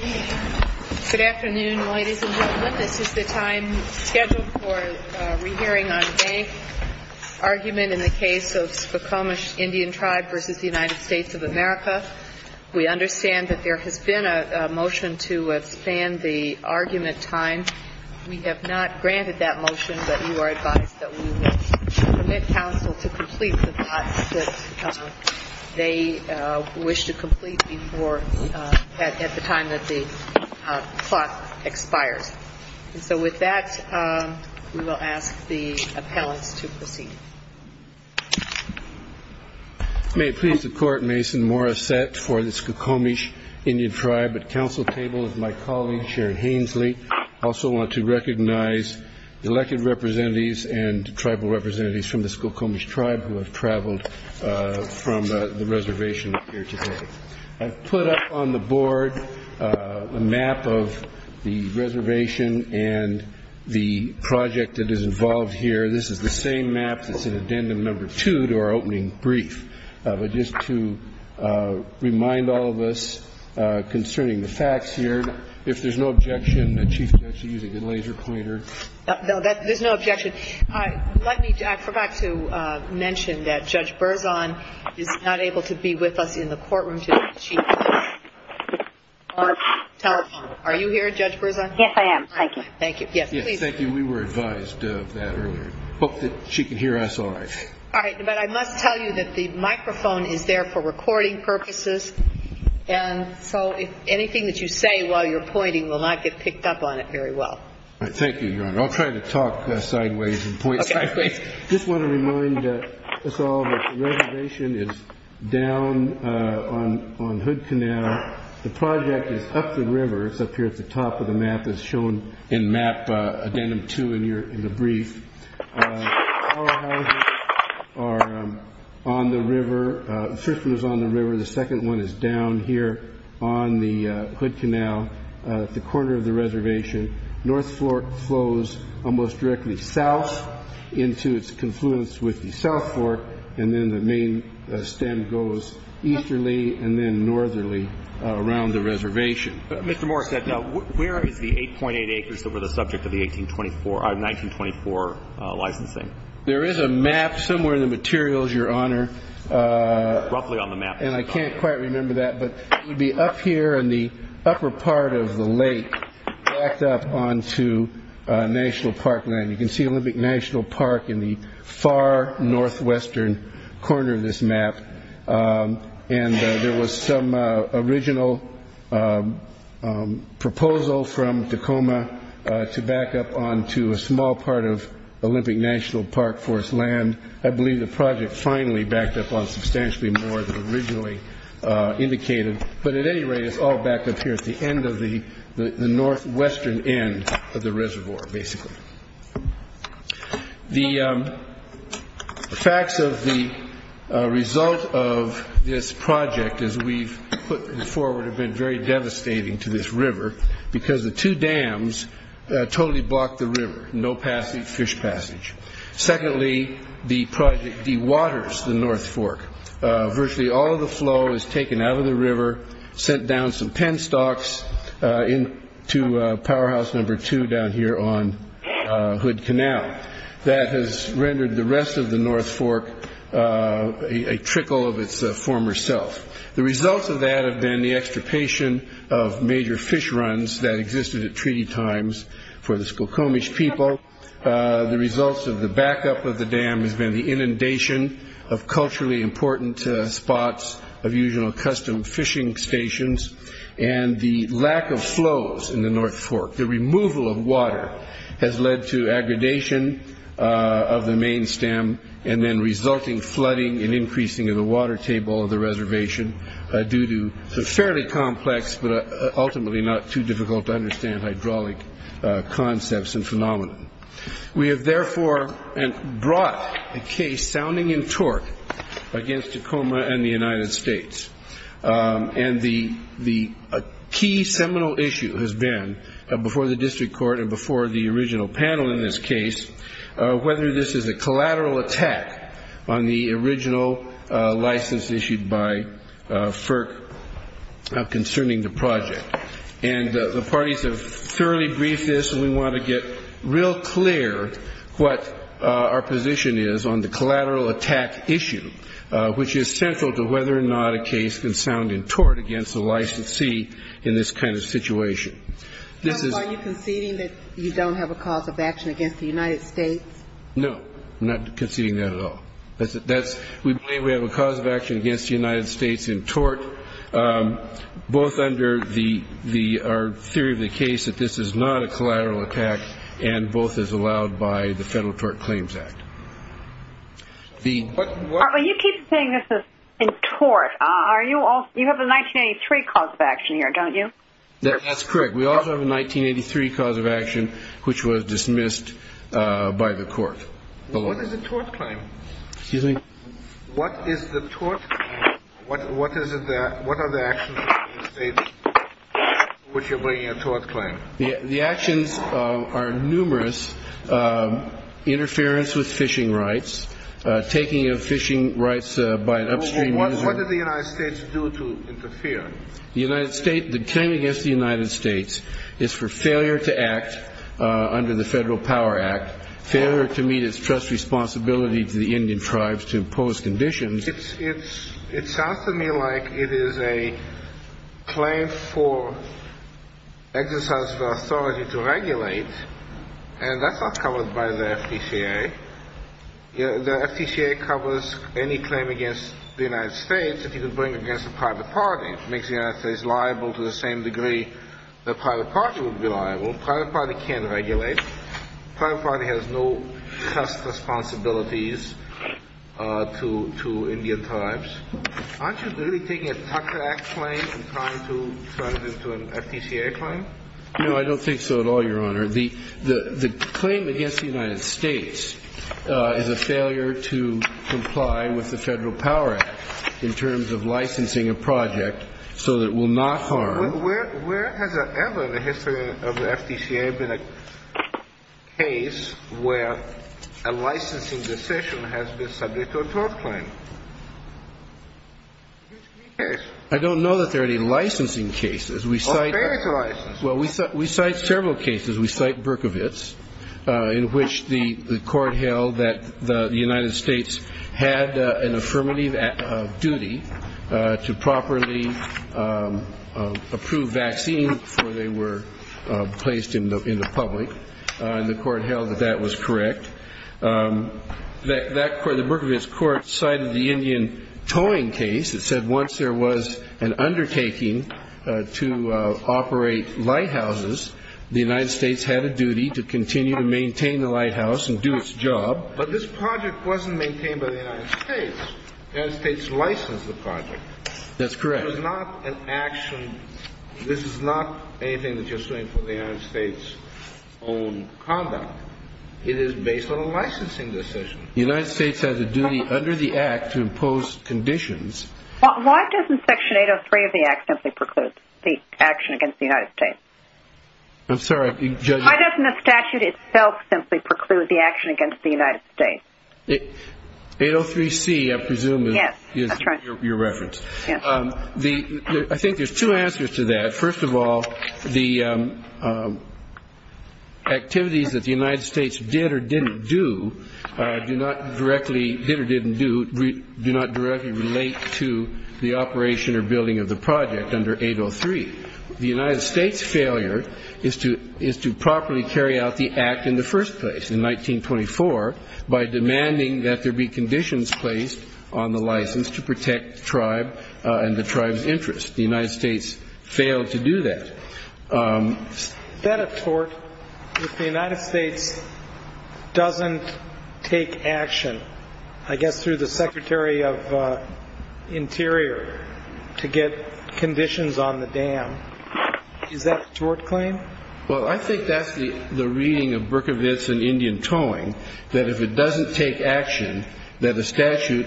of America. We understand that there has been a motion to expand the argument time. We have not granted that motion, but you are advised that we would permit Council to complete the process until the clock expires. And so with that, we will ask the appellants to proceed. May it please the Court, Mason Morissette for the Skokomish Indian Tribe. At Council table is my colleague Sharon Hainsley. I also want to recognize the elected representatives and tribal representatives from the Skokomish Tribe who have traveled from the reservation up here today. I've put up on the board a map of the reservation and the project that is involved here. This is the same map that's in Addendum No. 2 to our opening brief. But just to remind all of us concerning the facts here, if there's no objection, Chief Judge, you can use a good laser pointer. No, there's no objection. I forgot to mention that Judge Berzon is not able to be with us in the courtroom today, Chief Judge. Are you here, Judge Berzon? Yes, I am. Thank you. Thank you. Yes, please. Yes, thank you. We were advised of that earlier. I hope that she can hear us all right. All right. But I must tell you that the microphone is there for recording purposes, and so anything that you say while you're pointing will not get picked up on it very well. All right. Thank you, Your Honor. I'll try to talk sideways and point sideways. Okay. Please. The reservation is down on Hood Canal. The project is up the river. It's up here at the top of the map as shown in map Addendum 2 in the brief. The powerhouses are on the river. The first one is on the river. The second one is down here on the Hood Canal at the corner of the reservation. North Flork flows almost directly south into its confluence with the South Fork, and then the main stem goes easterly and then northerly around the reservation. Mr. Moore said, where is the 8.8 acres that were the subject of the 1924 licensing? There is a map somewhere in the materials, Your Honor. Roughly on the map. And I can't quite remember that, but it would be up here in the upper part of the lake backed up onto National Park land. You can see Olympic National Park in the far northwestern corner of this map. And there was some original proposal from Tacoma to back up onto a small part of Olympic National Park forest land. I believe the project finally backed up on substantially more than originally indicated. But at any rate, it's all backed up here at the end of the northwestern end of the reservoir, basically. The facts of the result of this project, as we've put it forward, have been very devastating to this river because the two dams totally blocked the river. No fish passage. Secondly, the project de-waters the North Fork. Virtually all of the flow is taken out of the river, sent down some penstocks into powerhouse number two down here on Hood Canal. That has rendered the rest of the North Fork a trickle of its former self. The results of that have been the extirpation of major fish runs that existed at treaty times for the Skokomish people. The results of the backup of the dam has been the inundation of culturally important spots of usual custom fishing stations and the lack of flows in the North Fork. The removal of water has led to aggradation of the main stem and then resulting flooding and increasing of the water table of the reservation due to the fairly complex, but ultimately not too difficult to understand hydraulic concepts and phenomenon. We have therefore brought a case sounding in tort against Tacoma and the United States. The key seminal issue has been, before the district court and before the original panel in this case, whether this is a collateral attack on the original license issued by FERC concerning the project. And the parties have thoroughly briefed this and we want to get real clear what our position is on the collateral attack issue, which is central to whether or not a case can sound in tort against a licensee in this kind of situation. This is – Are you conceding that you don't have a cause of action against the United States? No. I'm not conceding that at all. That's – we believe we have a cause of action against the United States in tort, both under the – our theory of the case that this is not a collateral attack and both as allowed by the Federal Tort Claims Act. The – But you keep saying this is in tort. Are you – you have a 1983 cause of action here, don't you? That's correct. We also have a 1983 cause of action, which was dismissed by the court. What is the tort claim? Excuse me? What is the tort claim? What is it that – what are the actions of the United States for which you're bringing a tort claim? The actions are numerous. Interference with fishing rights, taking of fishing rights by an upstream user – What did the United States do to interfere? The United States – the claim against the United States is for failure to act under the Federal Power Act, failure to meet its trust responsibility to the Indian tribes to impose conditions. It's – it sounds to me like it is a claim for exercise of authority to regulate, and that's not covered by the FTCA. The FTCA covers any claim against the United States that you could bring against the private party. It makes the United States liable to the same The private party would be liable. The private party can't regulate. The private party has no trust responsibilities to Indian tribes. Aren't you really taking a Tucker Act claim and trying to turn it into an FTCA claim? No, I don't think so at all, Your Honor. The claim against the United States is a failure to comply with the Federal Power Act in terms of licensing a project so that it will not harm – Where has ever in the history of the FTCA been a case where a licensing decision has been subject to a tort claim? I don't know that there are any licensing cases. We cite – There is a license. Well, we cite several cases. We cite Berkovitz, in which the court held that the United States had an affirmative duty to properly approve vaccines before they were placed in the public. The court held that that was correct. The Berkovitz court cited the Indian towing case that said once there was an undertaking to operate lighthouses, the United States had a duty to continue to maintain the lighthouse and do its job. But this project wasn't maintained by the United States. The United States licensed the project. That's correct. It was not an action – this is not anything that you're suing for the United States' own conduct. It is based on a licensing decision. The United States has a duty under the Act to impose conditions – Why doesn't Section 803 of the Act simply preclude the action against the United States? I'm sorry, Judge – Why doesn't the statute itself simply preclude the action against the United States? 803C, I presume, is your reference. Yes, that's right. I think there's two answers to that. First of all, the activities that the United States did or didn't do do not directly – did or didn't do – do not directly relate to the operation or building of the project under 803. The United States' failure is to properly carry out the Act in the first place, in 1924, by demanding that there be conditions placed on the license to protect the tribe and the tribe's interests. The United States failed to do that. Is that a tort if the United States doesn't take action, I guess through the Secretary of Interior, to get conditions on the dam? Is that a tort claim? Well, I think that's the reading of Berkovitz and Indian Towing, that if it doesn't take action that a statute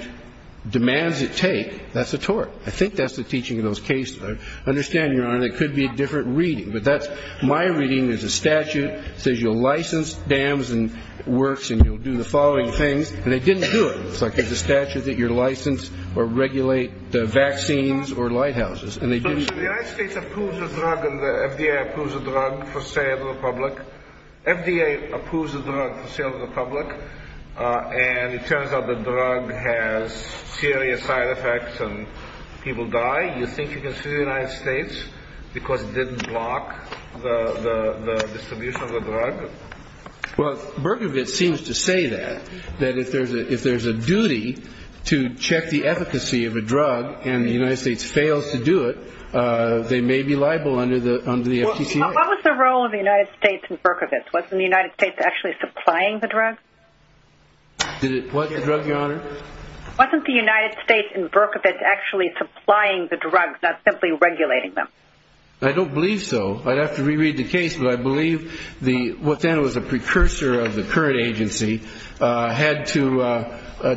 demands it take, that's a tort. I think that's the teaching of those cases. I understand, Your Honor, it could be a different reading, but that's – my reading is a statute says you'll license dams and works and you'll do the following things, and they didn't do it. It's like it's a statute that you license or regulate So the United States approves a drug and the FDA approves a drug for sale to the public. FDA approves a drug for sale to the public, and it turns out the drug has serious side effects and people die. You think you can sue the United States because it didn't block the distribution of the drug? Well, Berkovitz seems to say that, that if there's a duty to check the efficacy of a drug and the United States fails to do it, they may be liable under the FDCA. What was the role of the United States in Berkovitz? Wasn't the United States actually supplying the drug? What, the drug, Your Honor? Wasn't the United States in Berkovitz actually supplying the drugs, not simply regulating them? I don't believe so. I'd have to reread the case, but I believe what then was a precursor of the current agency had to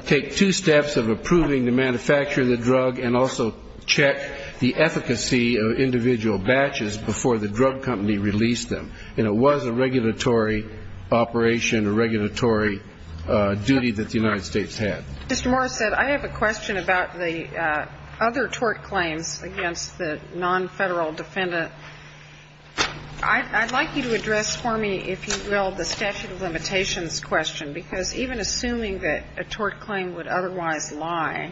take two steps of approving the manufacture of the drug and also check the efficacy of individual batches before the drug company released them. And it was a regulatory operation, a regulatory duty that the United States had. Mr. Morrisett, I have a question about the other tort claims against the non-federal defendant. I'd like you to address for me, if you will, the statute of limitations question, because even assuming that a tort claim would otherwise lie,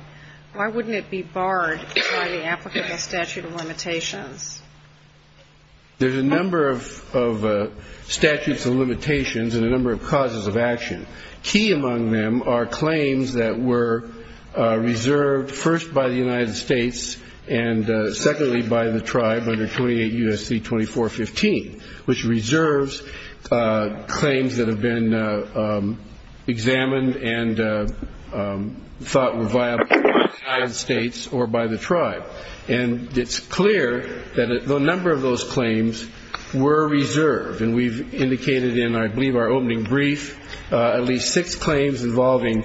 why wouldn't it be barred by the applicant of statute of limitations? There's a number of statutes of limitations and a number of causes of action. Key among them are claims that were reserved first by the United States and secondly by the tribe under 28 U.S.C. 2415, which reserves claims that have been examined and thought were viable by the United States or by the tribe. And it's clear that a number of those claims were reserved, and we've indicated in, I believe, our opening brief at least six claims involving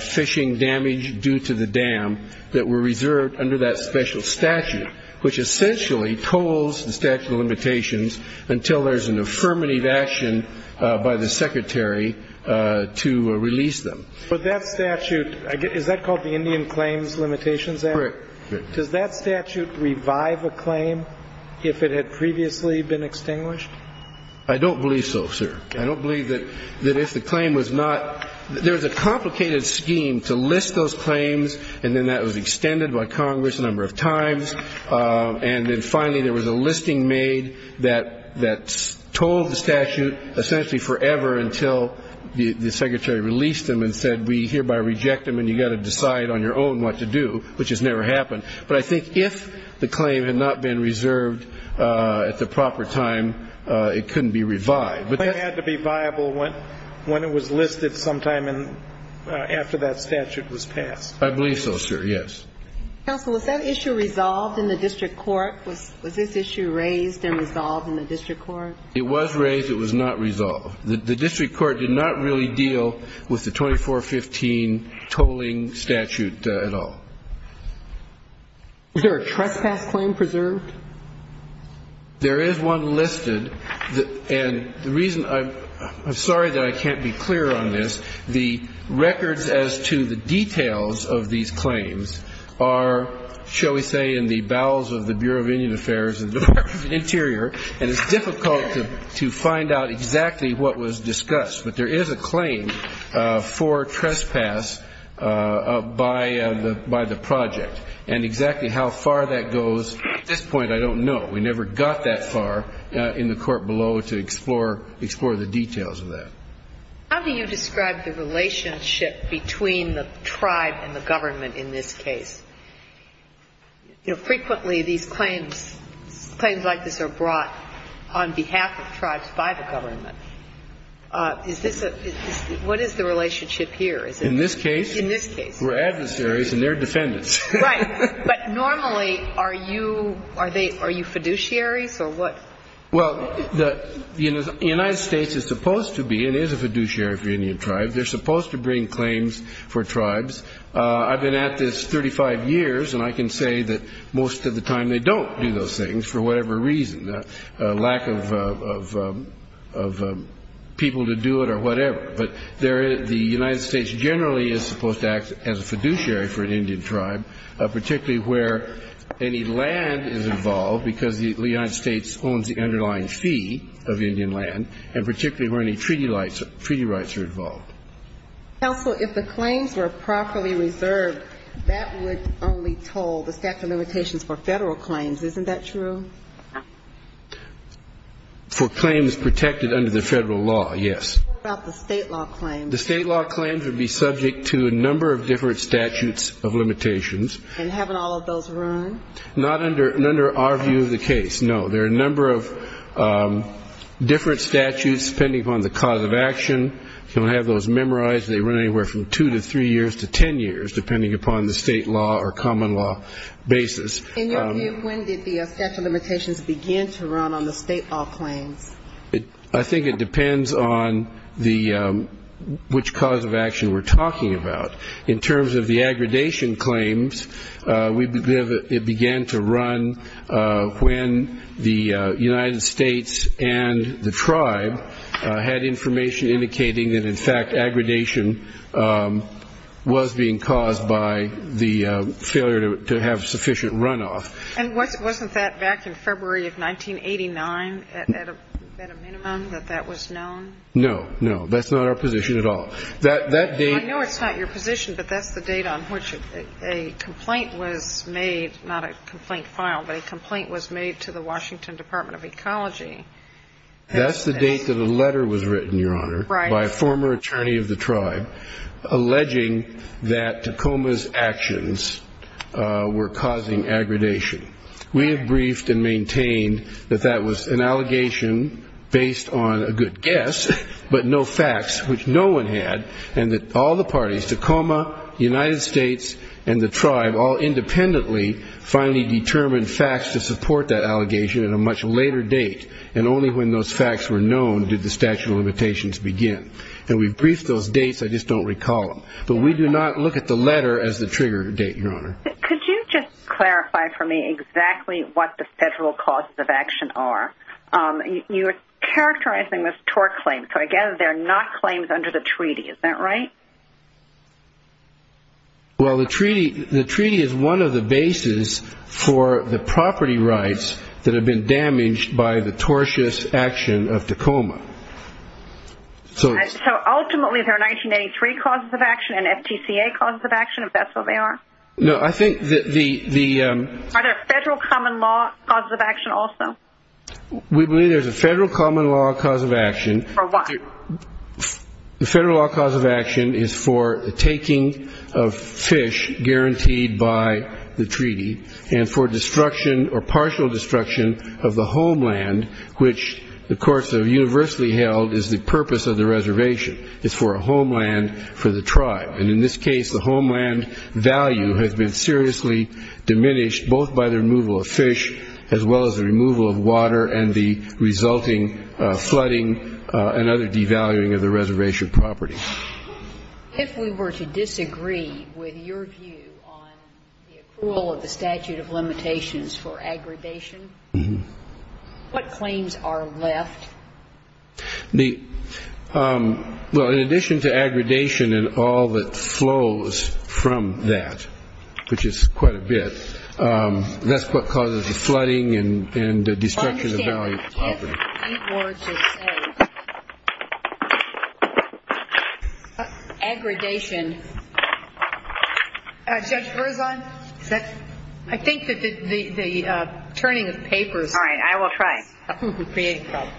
fishing damage due to the dam that were reserved under that special statute, which essentially culls the statute of limitations until there's an affirmative action by the secretary to release them. But that statute, is that called the Indian Claims Limitations Act? Correct. Does that statute revive a claim if it had previously been extinguished? I don't believe so, sir. I don't believe that if the claim was not, there's a complicated scheme to list those claims, and then that was extended by Congress a number of times, and then finally there was a listing made that told the statute essentially forever until the secretary released them and said, we hereby reject them and you've got to decide on your own what to do, which has never happened. But I think if the claim had not been reserved at the proper time it couldn't be revived. The claim had to be viable when it was listed sometime after that statute was passed. I believe so, sir, yes. Counsel, was that issue resolved in the district court? Was this issue raised and resolved in the district court? It was raised. It was not resolved. The district court did not really deal with the 2415 tolling statute at all. Was there a trespass claim preserved? There is one listed, and the reason I'm sorry that I can't be clear on this. The records as to the details of these claims are, shall we say, in the bowels of the Bureau of Indian Affairs and the Department of the Interior, and it's difficult to find out exactly what was discussed. But there is a claim for trespass by the project, and exactly how far that goes at this point I don't know. We never got that far in the court below to explore the details of that. How do you describe the relationship between the tribe and the government in this case? Frequently these claims, claims like this are brought on behalf of tribes by the government. Is this a – what is the relationship here? In this case? In this case. We're adversaries and they're defendants. Right. But normally, are you – are you fiduciaries or what? Well, the United States is supposed to be and is a fiduciary for Indian tribes. They're supposed to bring claims for tribes. I've been at this 35 years, and I can say that most of the time they don't do those things for whatever reason. Lack of people to do it or whatever. But the United States generally is supposed to act as a fiduciary for an Indian tribe, particularly where any land is involved, because the United States owns the underlying fee of Indian land, and particularly where any treaty rights are involved. Counsel, if the claims were properly reserved, that would only toll the statute of limitations for Federal claims. Isn't that true? For claims protected under the Federal law, yes. What about the state law claims? The state law claims would be subject to a number of different statutes of limitations. And haven't all of those run? Not under our view of the case, no. There are a number of different statutes depending upon the cause of action. You don't have those memorized. They run anywhere from two to three years to ten years, depending upon the state law or common law basis. In your view, when did the statute of limitations begin to run on the state law claims? I think it depends on which cause of action we're talking about. In terms of the aggredation claims, it began to run when the United States and the tribe had information indicating that, in fact, And wasn't that back in February of 1989 at a minimum, that that was known? No, no. That's not our position at all. I know it's not your position, but that's the date on which a complaint was made, not a complaint filed, but a complaint was made to the Washington Department of Ecology. That's the date that a letter was written, Your Honor, by a former attorney of the tribe, alleging that Tacoma's actions were causing aggredation. We have briefed and maintained that that was an allegation based on a good guess, but no facts, which no one had, and that all the parties, Tacoma, the United States, and the tribe, all independently finally determined facts to support that allegation at a much later date, and only when those facts were known did the statute of limitations begin. And we've briefed those dates. I just don't recall them, but we do not look at the letter as the trigger date, Your Honor. Could you just clarify for me exactly what the federal causes of action are? You're characterizing them as tort claims, so I gather they're not claims under the treaty. Is that right? Well, the treaty is one of the bases for the property rights that have been damaged by the tortious action of Tacoma. So ultimately there are 1983 causes of action and FTCA causes of action, if that's what they are? No, I think the ‑‑ Are there federal common law causes of action also? We believe there's a federal common law cause of action. For what? The federal law cause of action is for the taking of fish guaranteed by the treaty and for destruction or partial destruction of the homeland, which the courts have universally held is the purpose of the reservation, is for a homeland for the tribe. And in this case, the homeland value has been seriously diminished, both by the removal of fish as well as the removal of water and the resulting flooding and other devaluing of the reservation property. If we were to disagree with your view on the approval of the statute of limitations for aggradation, what claims are left? Well, in addition to aggradation and all that flows from that, which is quite a bit, that's what causes the flooding and the destruction of the value of the property. If we were to say aggradation ‑‑ Judge Berzon, is that? I think that the turning of papers. All right, I will try.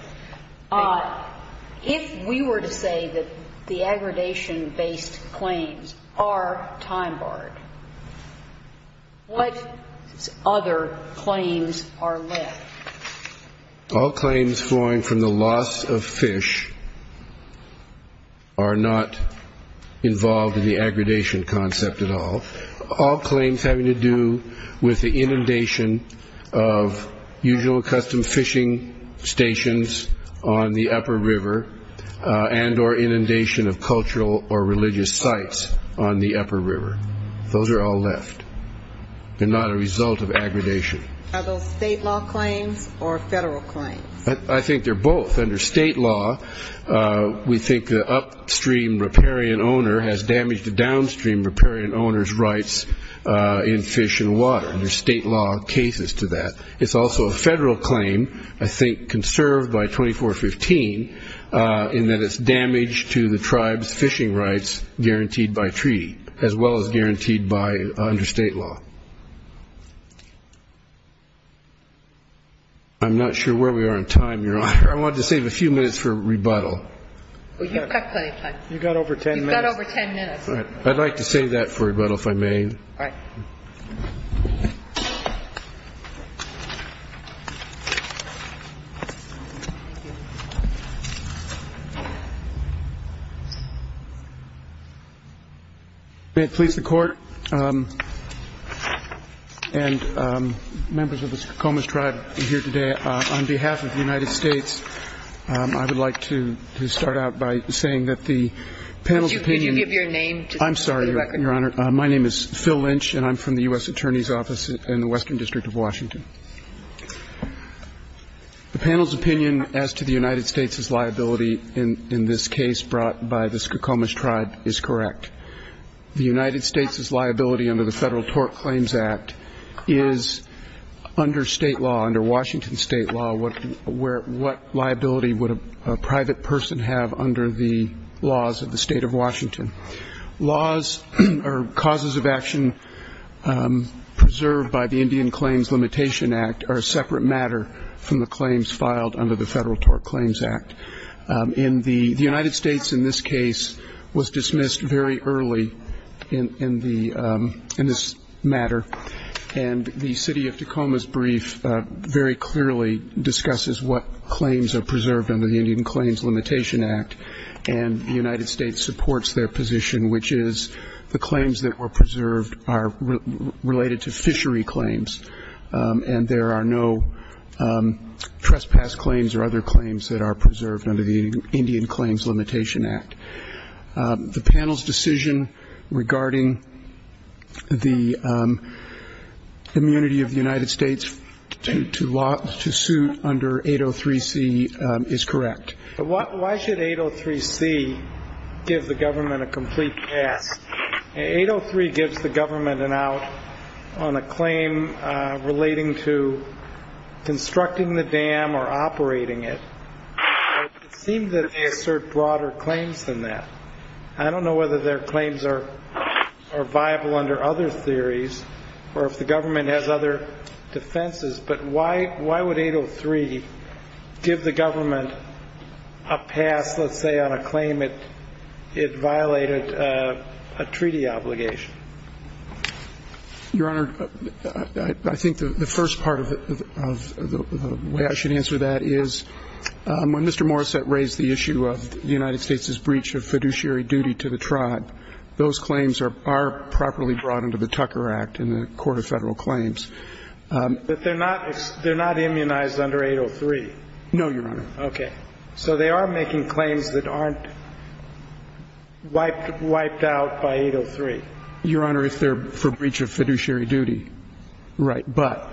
If we were to say that the aggradation-based claims are time barred, what other claims are left? All claims flowing from the loss of fish are not involved in the aggradation concept at all. All claims having to do with the inundation of usual custom fishing stations on the upper river and or inundation of cultural or religious sites on the upper river, those are all left. They're not a result of aggradation. Are those state law claims or federal claims? I think they're both. Under state law, we think the upstream riparian owner has damaged the downstream riparian owner's rights in fish and water, and there's state law cases to that. It's also a federal claim, I think conserved by 2415, in that it's damage to the tribe's fishing rights guaranteed by treaty, as well as guaranteed by under state law. I'm not sure where we are on time, Your Honor. I wanted to save a few minutes for rebuttal. You've got plenty of time. You've got over ten minutes. You've got over ten minutes. I'd like to save that for rebuttal, if I may. All right. Thank you. May it please the Court and members of the Sakomis tribe here today, on behalf of the United States, I would like to start out by saying that the panel's opinion. Could you give your name for the record? I'm sorry, Your Honor. My name is Phil Lynch, and I'm from the U.S. Attorney's Office in the Western District of Washington. The panel's opinion as to the United States' liability in this case brought by the Sakomis tribe is correct. The United States' liability under the Federal Tort Claims Act is under state law, under Washington state law, what liability would a private person have under the laws of the state of Washington. Laws or causes of action preserved by the Indian Claims Limitation Act are a separate matter from the claims filed under the Federal Tort Claims Act. The United States in this case was dismissed very early in this matter, and the city of Tacoma's brief very clearly discusses what claims are preserved under the Indian Claims Limitation Act, and the United States supports their position, which is the claims that were preserved are related to fishery claims and there are no trespass claims or other claims that are preserved under the Indian Claims Limitation Act. The panel's decision regarding the immunity of the United States to suit under 803C is correct. Why should 803C give the government a complete pass? 803 gives the government an out on a claim relating to constructing the dam or operating it. It seems that they assert broader claims than that. I don't know whether their claims are viable under other theories or if the government has other defenses, but why would 803 give the government a pass, let's say, on a claim that it violated a treaty obligation? Your Honor, I think the first part of the way I should answer that is when Mr. Morrissette raised the issue of the United States' breach of fiduciary duty to the tribe, those claims are properly brought into the Tucker Act in the Court of Federal Claims. But they're not immunized under 803? No, Your Honor. Okay. So they are making claims that aren't wiped out by 803? Your Honor, if they're for breach of fiduciary duty, right. But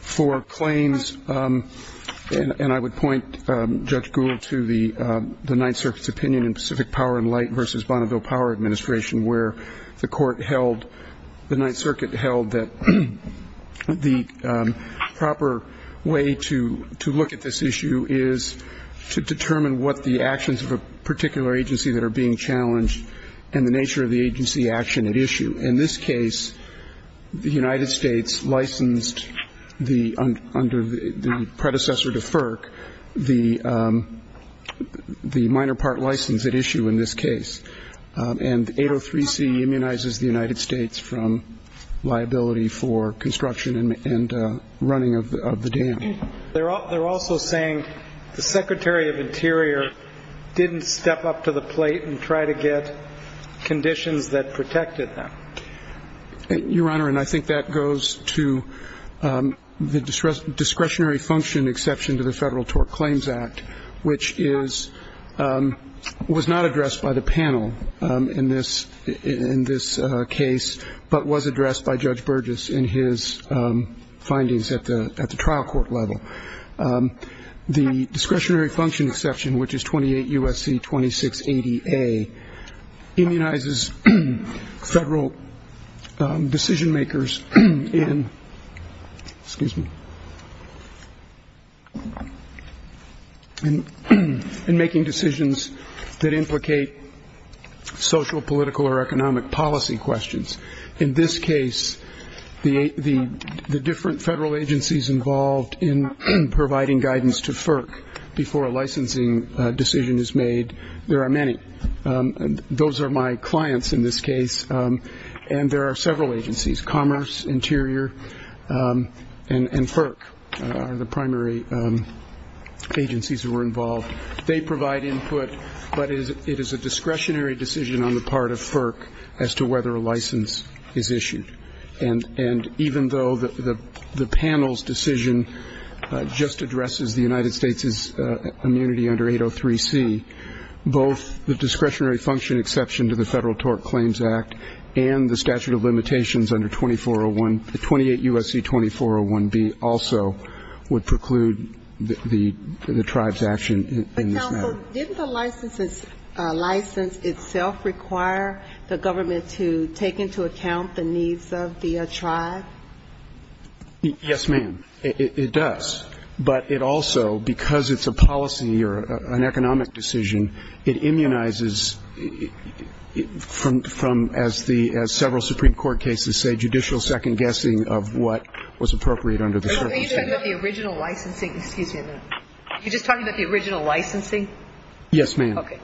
for claims, and I would point Judge Gould to the Ninth Circuit's opinion in Pacific Power and Light versus Bonneville Power Administration where the court held, the Ninth Circuit held that the proper way to look at this issue is to determine what the actions of a particular agency that are being challenged and the nature of the agency action at issue. In this case, the United States licensed under the predecessor to FERC the minor part license at issue in this case. And 803C immunizes the United States from liability for construction and running of the dam. They're also saying the Secretary of Interior didn't step up to the plate and try to get conditions that protected them. Your Honor, and I think that goes to the discretionary function exception to the Federal Tort Claims Act, which was not addressed by the panel in this case, but was addressed by Judge Burgess in his findings at the trial court level. The discretionary function exception, which is 28 U.S.C. 2680A, immunizes federal decision-makers in making decisions that implicate social, political, or economic policy questions. In this case, the different federal agencies involved in providing guidance to FERC before a licensing decision is made, there are many. Those are my clients in this case. And there are several agencies, Commerce, Interior, and FERC are the primary agencies who were involved. They provide input, but it is a discretionary decision on the part of FERC as to whether a license is issued. And even though the panel's decision just addresses the United States' immunity under 803C, both the discretionary function exception to the Federal Tort Claims Act and the statute of limitations under 2401, 28 U.S.C. 2401B also would preclude the tribe's action in this matter. So didn't the license itself require the government to take into account the needs of the tribe? Yes, ma'am. It does. But it also, because it's a policy or an economic decision, it immunizes from, as several Supreme Court cases say, judicial second-guessing of what was appropriate under the circumstances. Are you talking about the original licensing? Excuse me a minute. Are you just talking about the original licensing? Yes, ma'am. Okay.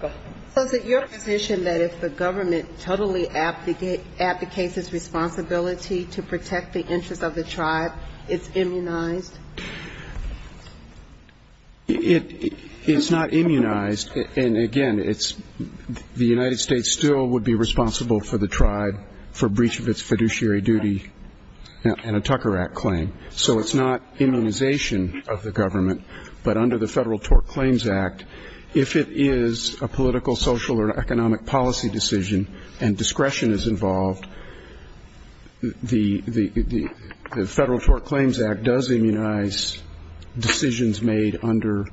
Go ahead. So is it your position that if the government totally abdicates its responsibility to protect the interest of the tribe, it's immunized? It's not immunized. And, again, it's the United States still would be responsible for the tribe for breach of its fiduciary duty and a Tucker Act claim. So it's not immunization of the government, but under the Federal Tort Claims Act, if it is a political, social or economic policy decision and discretion is involved, the Federal Tort Claims Act does immunize decisions made under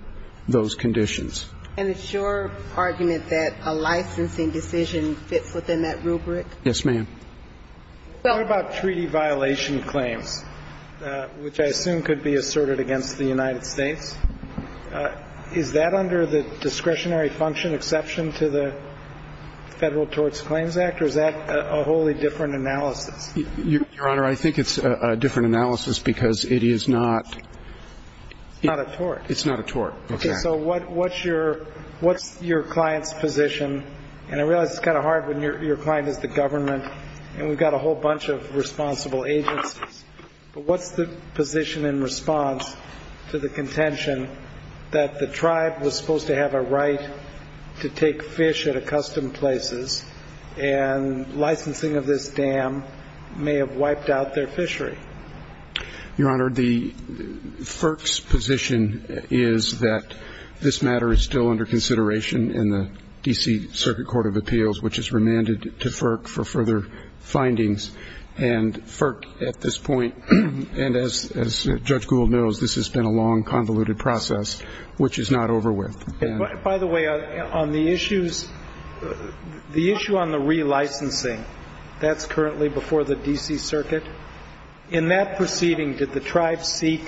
those conditions. And it's your argument that a licensing decision fits within that rubric? Yes, ma'am. What about treaty violation claims, which I assume could be asserted against the United States? Is that under the discretionary function exception to the Federal Tort Claims Act, or is that a wholly different analysis? Your Honor, I think it's a different analysis because it is not. It's not a tort. It's not a tort. Okay. So what's your client's position? And I realize it's kind of hard when your client is the government and we've got a whole bunch of responsible agencies. But what's the position in response to the contention that the tribe was supposed to have a right to take fish at accustomed places and licensing of this dam may have wiped out their fishery? Your Honor, the FERC's position is that this matter is still under consideration in the D.C. Circuit Court of Appeals, which is remanded to FERC for further findings. And FERC at this point, and as Judge Gould knows, this has been a long, convoluted process, which is not over with. By the way, on the issues, the issue on the relicensing, that's currently before the D.C. Circuit. In that proceeding, did the tribe seek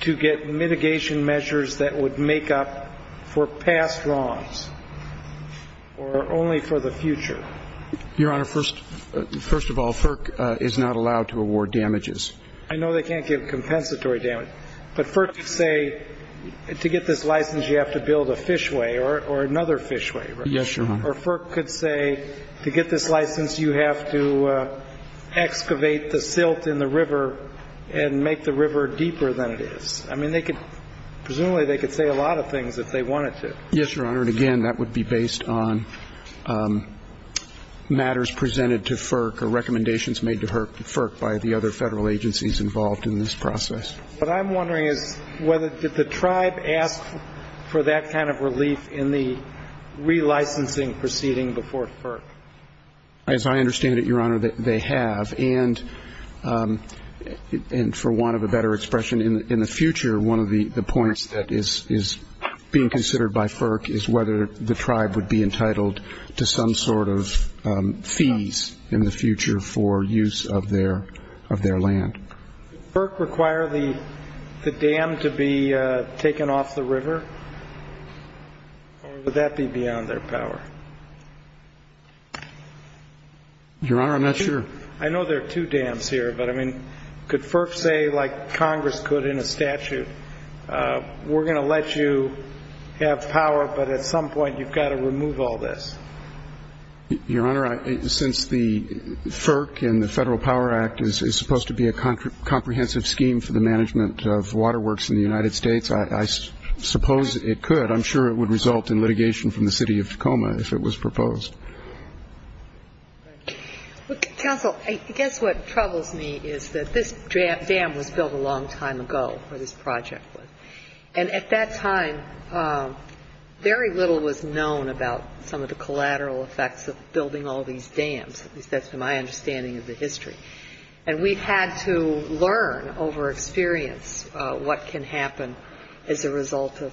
to get mitigation measures that would make up for past wrongs or only for the future? Your Honor, first of all, FERC is not allowed to award damages. I know they can't give compensatory damage. But FERC could say to get this license you have to build a fishway or another fishway, right? Yes, Your Honor. Or FERC could say to get this license you have to excavate the silt in the river and make the river deeper than it is. I mean, they could, presumably they could say a lot of things if they wanted to. Yes, Your Honor, and again, that would be based on matters presented to FERC or recommendations made to FERC by the other federal agencies involved in this process. What I'm wondering is whether did the tribe ask for that kind of relief in the relicensing proceeding before FERC? As I understand it, Your Honor, they have. And for want of a better expression, in the future, one of the points that is being considered by FERC is whether the tribe would be entitled to some sort of fees in the future for use of their land. Would FERC require the dam to be taken off the river, or would that be beyond their power? Your Honor, I'm not sure. I know there are two dams here, but, I mean, could FERC say, like Congress could in a statute, we're going to let you have power, but at some point you've got to remove all this? Your Honor, since the FERC and the Federal Power Act is supposed to be a comprehensive scheme for the management of waterworks in the United States, I suppose it could. I'm sure it would result in litigation from the city of Tacoma if it was proposed. Counsel, I guess what troubles me is that this dam was built a long time ago, or this project was. And at that time, very little was known about some of the collateral effects of building all these dams. At least that's my understanding of the history. And we've had to learn over experience what can happen as a result of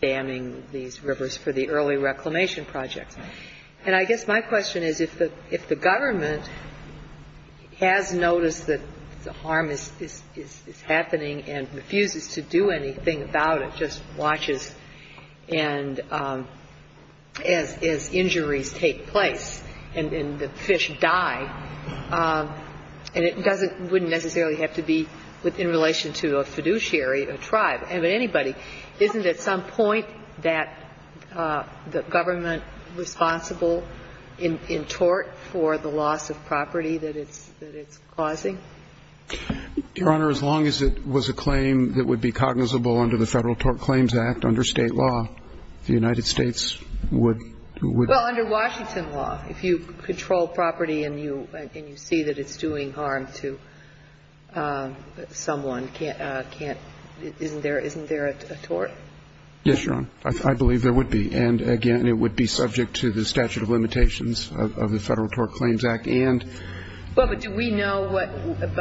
damming these rivers for the early reclamation projects. And I guess my question is, if the government has noticed that the harm is happening and refuses to do anything about it, just watches and, as injuries take place and the fish die, and it doesn't, wouldn't necessarily have to be in relation to a fiduciary, a tribe, anybody, isn't at some point that the government responsible in tort for the loss of property that it's causing? Your Honor, as long as it was a claim that would be cognizable under the Federal Tort Claims Act, under State law, the United States would be. Well, under Washington law, if you control property and you see that it's doing harm to someone, can't, isn't there a tort? Yes, Your Honor. I believe there would be. And, again, it would be subject to the statute of limitations of the Federal Tort Claims Act and. Well, but do we know what,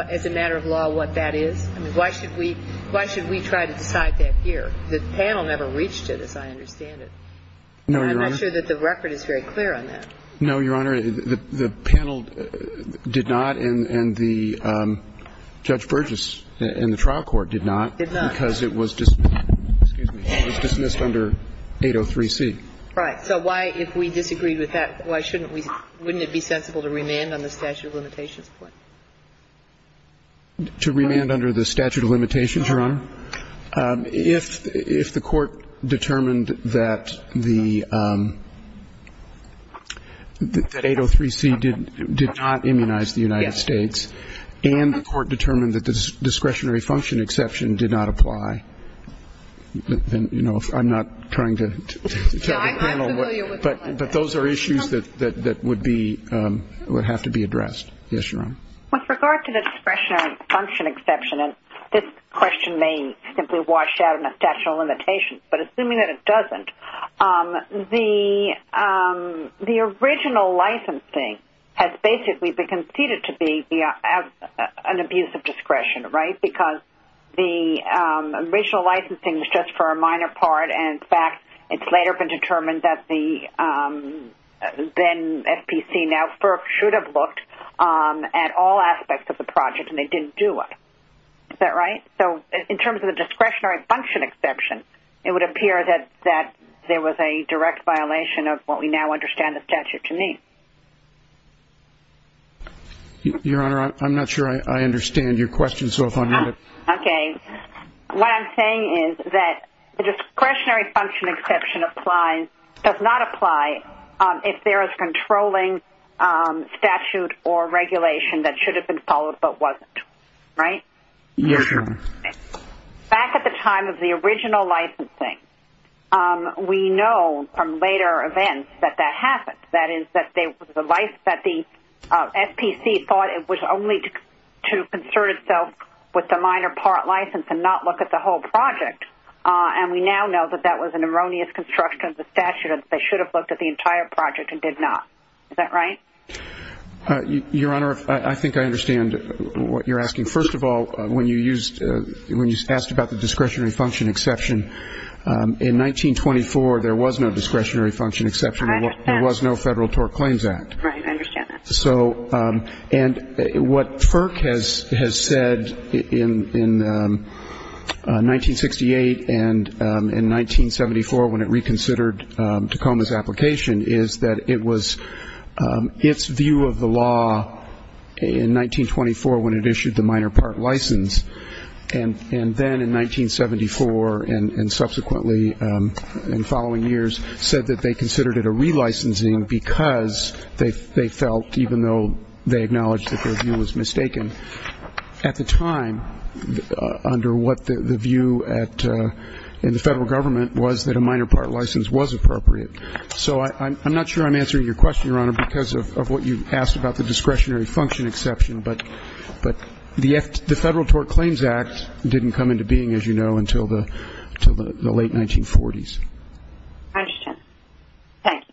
as a matter of law, what that is? I mean, why should we try to decide that here? The panel never reached it, as I understand it. No, Your Honor. I'm not sure that the record is very clear on that. No, Your Honor. The panel did not, and the Judge Burgess in the trial court did not. Did not. Because it was dismissed. Excuse me. It was dismissed under 803C. Right. So why, if we disagree with that, why shouldn't we, wouldn't it be sensible to remand on the statute of limitations point? To remand under the statute of limitations, Your Honor? If the court determined that the, that 803C did not immunize the United States and the court determined that the discretionary function exception did not apply, then, you know, I'm not trying to tell the panel. I'm not familiar with that. But those are issues that would be, would have to be addressed. Yes, Your Honor. With regard to the discretionary function exception, and this question may simply wash out in a statute of limitations, but assuming that it doesn't, the original licensing has basically been conceded to be an abuse of discretion, right? Because the original licensing was just for a minor part, and, in fact, it's later been determined that the, then FPC, now FERC, should have looked at all aspects of the project, and they didn't do it. Is that right? So in terms of the discretionary function exception, it would appear that there was a direct violation of what we now understand the statute to mean. Your Honor, I'm not sure I understand your question, so if I may. Okay. What I'm saying is that the discretionary function exception applies, does not apply if there is controlling statute or regulation that should have been followed but wasn't, right? Yes, Your Honor. Back at the time of the original licensing, we know from later events that that happened, that is that the FPC thought it was only to concern itself with the minor part license and not look at the whole project. And we now know that that was an erroneous construction of the statute and that they should have looked at the entire project and did not. Is that right? Your Honor, I think I understand what you're asking. First of all, when you used, when you asked about the discretionary function exception, in 1924, there was no discretionary function exception. There was no Federal Tort Claims Act. Right, I understand that. And what FERC has said in 1968 and in 1974 when it reconsidered Tacoma's application is that it was, its view of the law in 1924 when it issued the minor part license, and then in 1974 and subsequently in following years, said that they considered it a relicensing because they felt, even though they acknowledged that their view was mistaken, at the time under what the view at, in the Federal Government was that a minor part license was appropriate. So I'm not sure I'm answering your question, Your Honor, because of what you asked about the discretionary function exception. But the Federal Tort Claims Act didn't come into being, as you know, until the late 1940s. I understand. Thank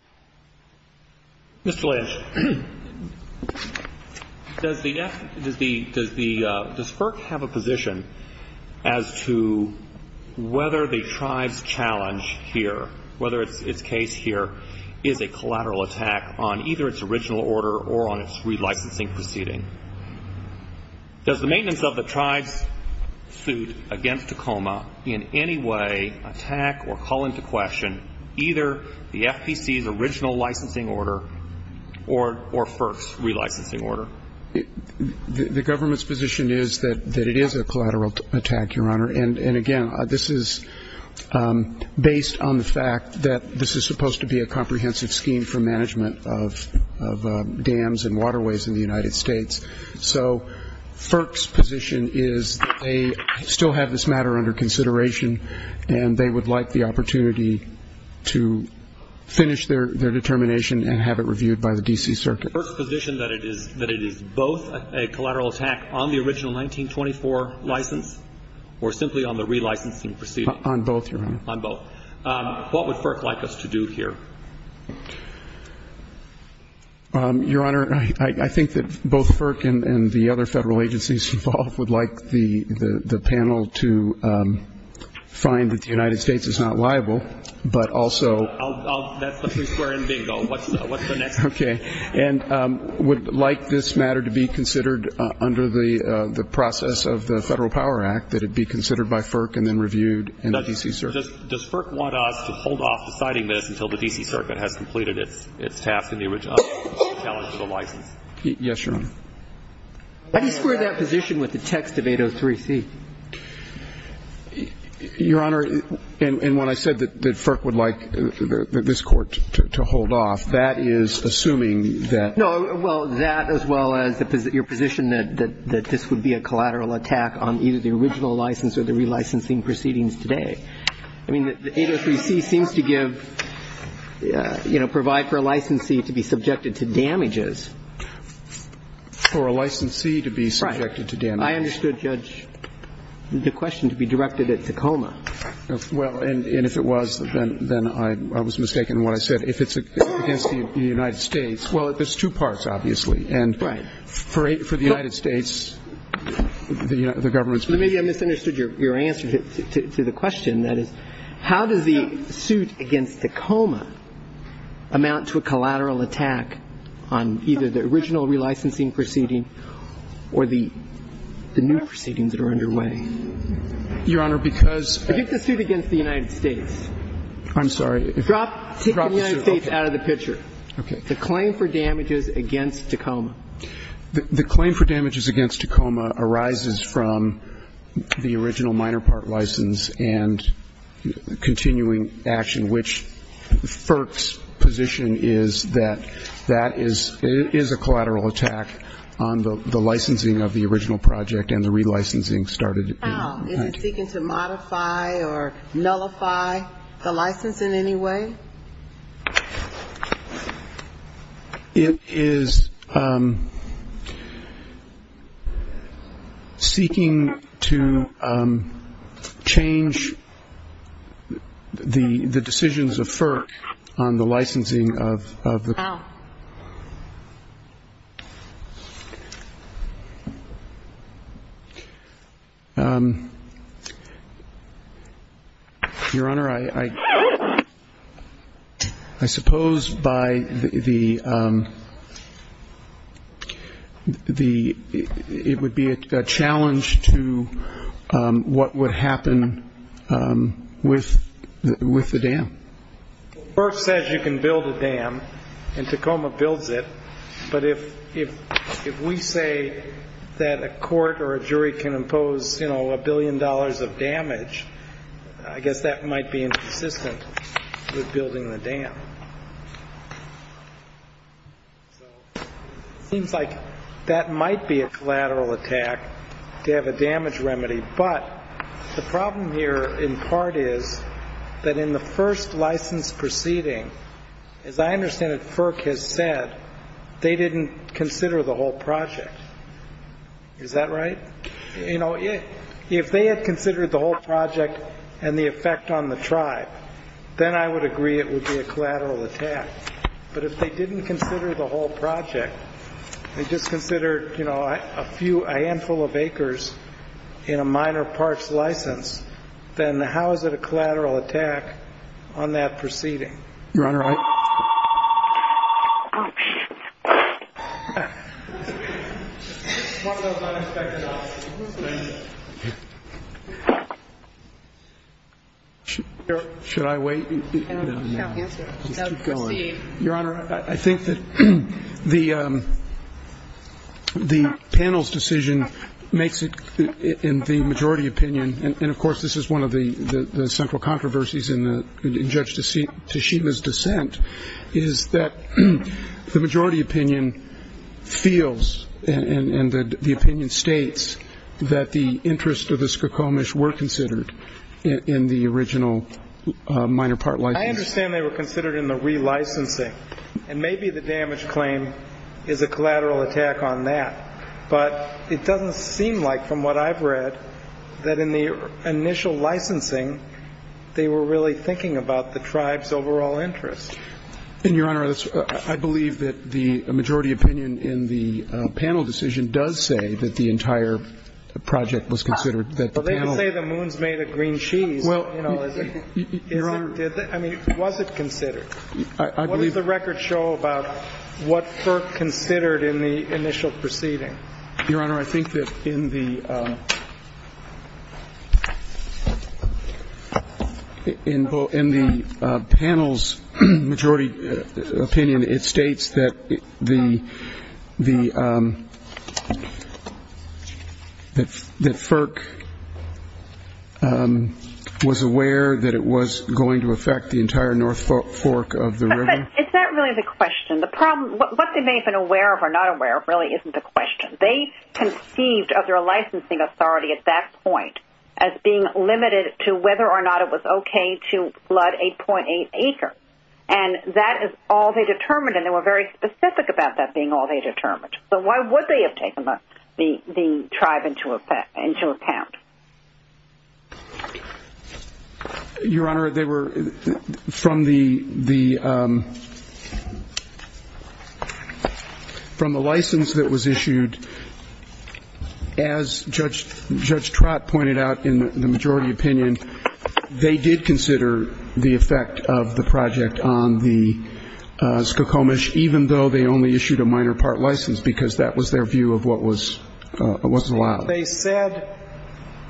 you. Mr. Lynch, does the, does the, does the, does FERC have a position as to whether the tribe's challenge here, whether its case here is a collateral attack on either its original order or on its relicensing proceeding? Does the maintenance of the tribe's suit against Tacoma in any way attack or call into question either the FPC's original licensing order or FERC's relicensing order? The government's position is that it is a collateral attack, Your Honor. And, again, this is based on the fact that this is supposed to be a comprehensive scheme for management of dams and waterways in the United States. So FERC's position is that they still have this matter under consideration and they would like the opportunity to finish their determination and have it reviewed by the D.C. Circuit. FERC's position that it is both a collateral attack on the original 1924 license or simply on the relicensing proceeding? On both, Your Honor. On both. What would FERC like us to do here? Your Honor, I think that both FERC and the other Federal agencies involved would like the panel to find that the United States is not liable, but also. That's the free square and bingo. What's the next one? Okay. And would like this matter to be considered under the process of the Federal Power Act, that it be considered by FERC and then reviewed in the D.C. Circuit? Does FERC want us to hold off deciding this until the D.C. Circuit has completed its task in the original challenge to the license? Yes, Your Honor. How do you square that position with the text of 803C? Your Honor, and when I said that FERC would like this Court to hold off, that is assuming that. No, well, that as well as your position that this would be a collateral attack on either the original license or the relicensing proceedings today. I mean, 803C seems to give, you know, provide for a licensee to be subjected to damages. For a licensee to be subjected to damages. Right. I understood, Judge, the question to be directed at Tacoma. Well, and if it was, then I was mistaken in what I said. If it's against the United States, well, there's two parts, obviously. Right. And for the United States, the government's position. Maybe I misunderstood your answer to the question. That is, how does the suit against Tacoma amount to a collateral attack on either the original relicensing proceeding or the new proceedings that are underway? Your Honor, because the suit against the United States. I'm sorry. Take the United States out of the picture. Okay. The claim for damages against Tacoma. The claim for damages against Tacoma arises from the original minor part license and continuing action, which FERC's position is that that is a collateral attack on the licensing of the original project and the relicensing started. Is it seeking to modify or nullify the license in any way? It is seeking to change the decisions of FERC on the licensing of the. Your Honor, I suppose by the, it would be a challenge to what would happen with the dam. FERC says you can build a dam and Tacoma builds it, but if we say that a court or a jury can impose, you know, a billion dollars of damage, I guess that might be inconsistent with building the dam. So it seems like that might be a collateral attack to have a damage remedy. But the problem here in part is that in the first license proceeding, as I understand it, FERC has said they didn't consider the whole project. Is that right? You know, if they had considered the whole project and the effect on the tribe, then I would agree it would be a collateral attack. But if they didn't consider the whole project, they just considered, you know, a handful of acres in a minor parts license, then how is it a collateral attack on that proceeding? Your Honor, I. Should I wait? Your Honor, I think that the panel's decision makes it in the majority opinion, and of course this is one of the central points of this Court's dissent, is that the majority opinion feels and the opinion states that the interest of the Skokomish were considered in the original minor part license. I understand they were considered in the relicensing, and maybe the damage claim is a collateral attack on that. But it doesn't seem like, from what I've read, that in the initial licensing, they were really thinking about the tribe's overall interest. And, Your Honor, I believe that the majority opinion in the panel decision does say that the entire project was considered. But they didn't say the moon's made of green cheese. I mean, was it considered? What does the record show about what FERC considered in the initial proceeding? Your Honor, I think that in the panel's majority opinion, it states that the FERC was aware that it was going to affect the entire North Fork of the river. Is that really the question? What they may have been aware of or not aware of really isn't the question. They conceived of their licensing authority at that point as being limited to whether or not it was okay to flood 8.8 acres. And that is all they determined, and they were very specific about that being all they determined. So why would they have taken the tribe into account? Your Honor, they were, from the license that was issued, as Judge Trott pointed out in the majority opinion, they did consider the effect of the project on the Skokomish, even though they only issued a minor part license, because that was their view of what was allowed.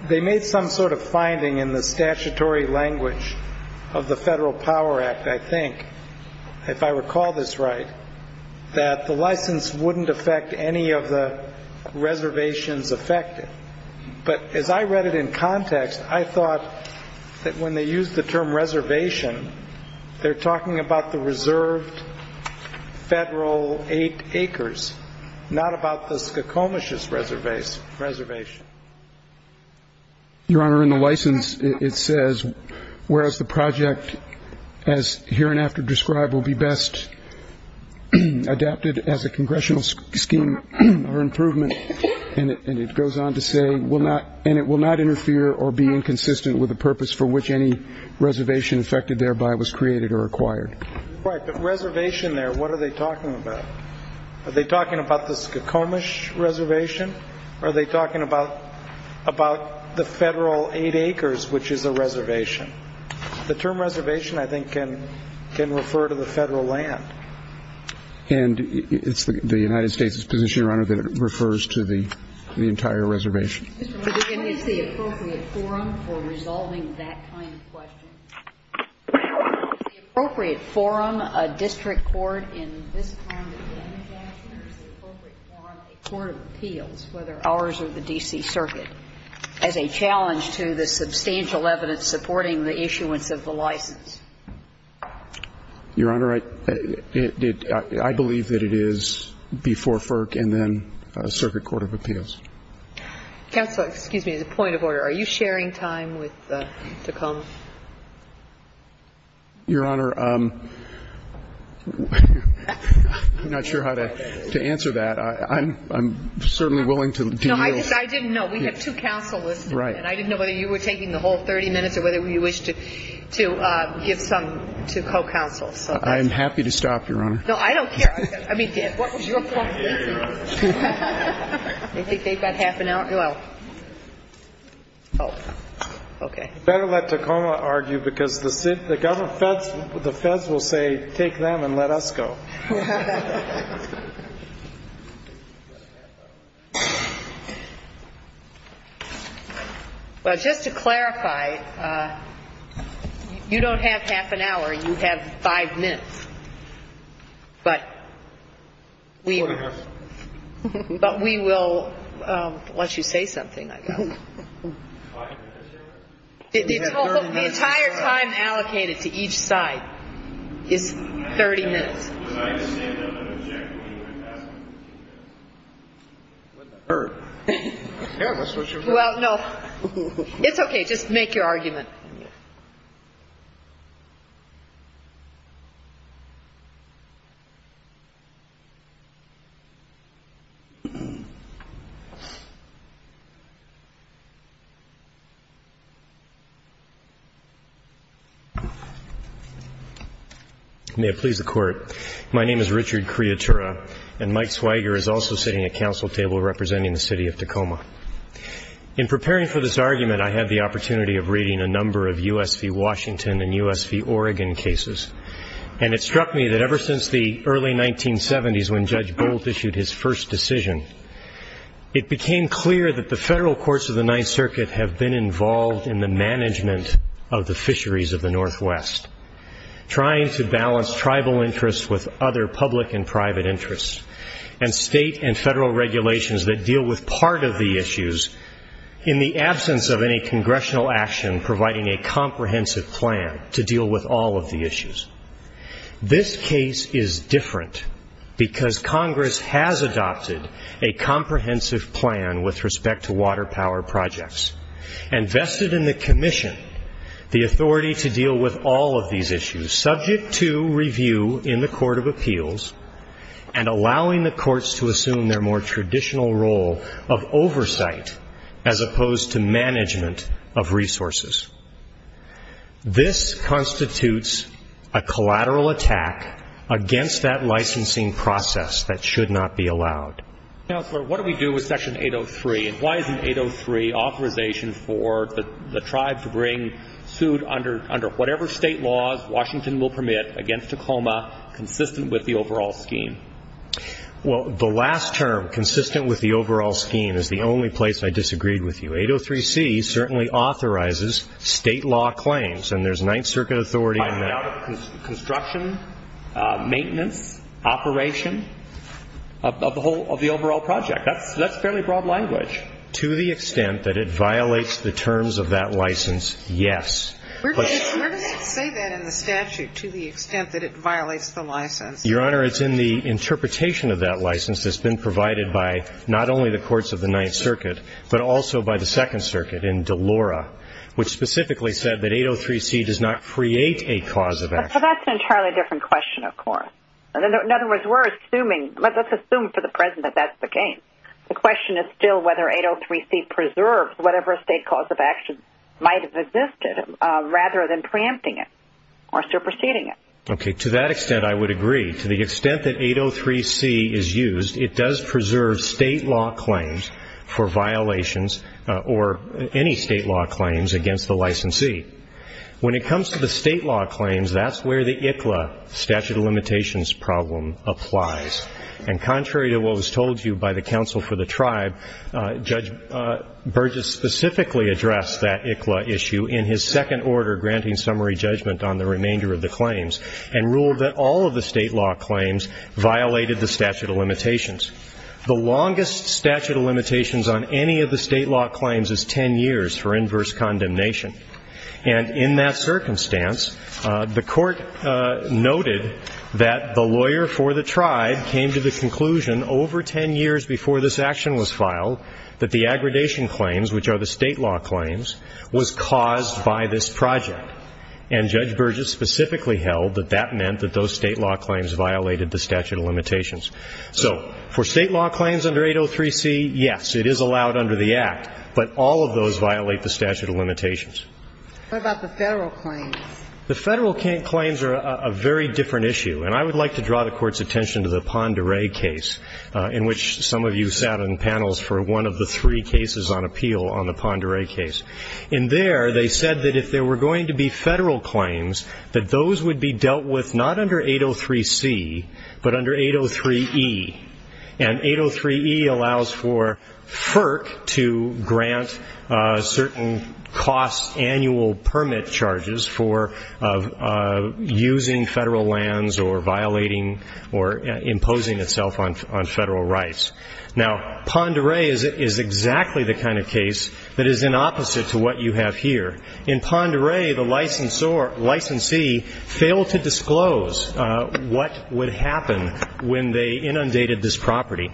They made some sort of finding in the statutory language of the Federal Power Act, I think, if I recall this right, that the license wouldn't affect any of the reservations affected. But as I read it in context, I thought that when they used the term reservation, they're talking about the reserved Federal 8 acres, not about the Skokomish reservation. Your Honor, in the license, it says, whereas the project, as hereinafter described, will be best adapted as a congressional scheme for improvement, and it goes on to say, and it will not interfere or be inconsistent with the purpose for which any reservation affected thereby was created or acquired. Right, but reservation there, what are they talking about? Are they talking about the Skokomish reservation, or are they talking about the Federal 8 acres, which is a reservation? The term reservation, I think, can refer to the Federal land. And it's the United States' position, Your Honor, that it refers to the entire reservation. Mr. Miller, what is the appropriate forum for resolving that kind of question? Is the appropriate forum a district court in this kind of damage action, or is the appropriate forum a court of appeals, whether ours or the D.C. Circuit, as a challenge to the substantial evidence supporting the issuance of the license? Your Honor, I believe that it is before FERC and then a circuit court of appeals. Counsel, excuse me. The point of order, are you sharing time with the Skokomish? Your Honor, I'm not sure how to answer that. I'm certainly willing to yield. No, I didn't know. We have two counselors. Right. And I didn't know whether you were taking the whole 30 minutes or whether you wished to give some to co-counsel. I'm happy to stop, Your Honor. No, I don't care. I mean, what was your point? I think they've got half an hour. Oh, okay. Better let Tacoma argue, because the feds will say, take them and let us go. Well, just to clarify, you don't have half an hour. You have five minutes. But we will let you say something, I guess. The entire time allocated to each side is 30 minutes. Well, no. It's okay. Just make your argument. May it please the Court. My name is Richard Criatura, and Mike Swiger is also sitting at counsel table representing the City of Tacoma. In preparing for this argument, I had the opportunity of reading a number of U.S. v. Washington and U.S. v. Oregon cases, and it struck me that ever since the early 1970s, when Judge Bolt issued his first decision, it became clear that the federal courts of the Ninth Circuit have been involved in the management of the fisheries of the Northwest, trying to balance tribal interests with other public and private interests, and state and federal regulations that deal with part of the issues in the absence of any congressional action providing a comprehensive plan to deal with all of the issues. This case is different because Congress has adopted a comprehensive plan with respect to water power projects and vested in the commission the authority to deal with all of these issues, subject to review in the Court of Appeals, and allowing the courts to assume their more traditional role of oversight as opposed to management of resources. This constitutes a collateral attack against that licensing process that should not be allowed. Counselor, what do we do with Section 803, and why isn't 803 authorization for the tribe to bring suit under whatever state laws Washington will permit against Tacoma, consistent with the overall scheme? Well, the last term, consistent with the overall scheme, is the only place I disagreed with you. 803C certainly authorizes state law claims, and there's Ninth Circuit authority on that. But it's in the interpretation of that license that's been provided by not only the courts of the Ninth Circuit, but also by the Second Circuit in Delora, which specifically said that 803C does not create a cause of action. It's in the interpretation of the statute. Well, that's an entirely different question, of course. In other words, let's assume for the present that that's the case. The question is still whether 803C preserves whatever state cause of action might have existed, rather than preempting it or superseding it. Okay, to that extent I would agree. To the extent that 803C is used, it does preserve state law claims for violations, or any state law claims, against the licensee. When it comes to the state law claims, that's where the ICLA statute of limitations problem applies. And contrary to what was told to you by the counsel for the tribe, Judge Burgess specifically addressed that ICLA issue in his second order, granting summary judgment on the remainder of the claims, and ruled that all of the state law claims violated the statute of limitations. The longest statute of limitations on any of the state law claims is ten years for inverse condemnation. And in that circumstance, the Court noted that the lawyer for the tribe came to the conclusion over ten years before this action was filed that the aggradation claims, which are the state law claims, was caused by this project. And Judge Burgess specifically held that that meant that those state law claims violated the statute of limitations. So for state law claims under 803C, yes, it is allowed under the Act. But all of those violate the statute of limitations. What about the Federal claims? The Federal claims are a very different issue. And I would like to draw the Court's attention to the Pend Oreille case, in which some of you sat on panels for one of the three cases on appeal on the Pend Oreille case. In there, they said that if there were going to be Federal claims, that those would be dealt with not under 803C, but under 803E. And 803E allows for FERC to grant certain cost annual permit charges for using Federal lands or violating or imposing itself on Federal rights. Now, Pend Oreille is exactly the kind of case that is in opposite to what you have here. In Pend Oreille, the licensee failed to disclose what would happen when they inundated this property.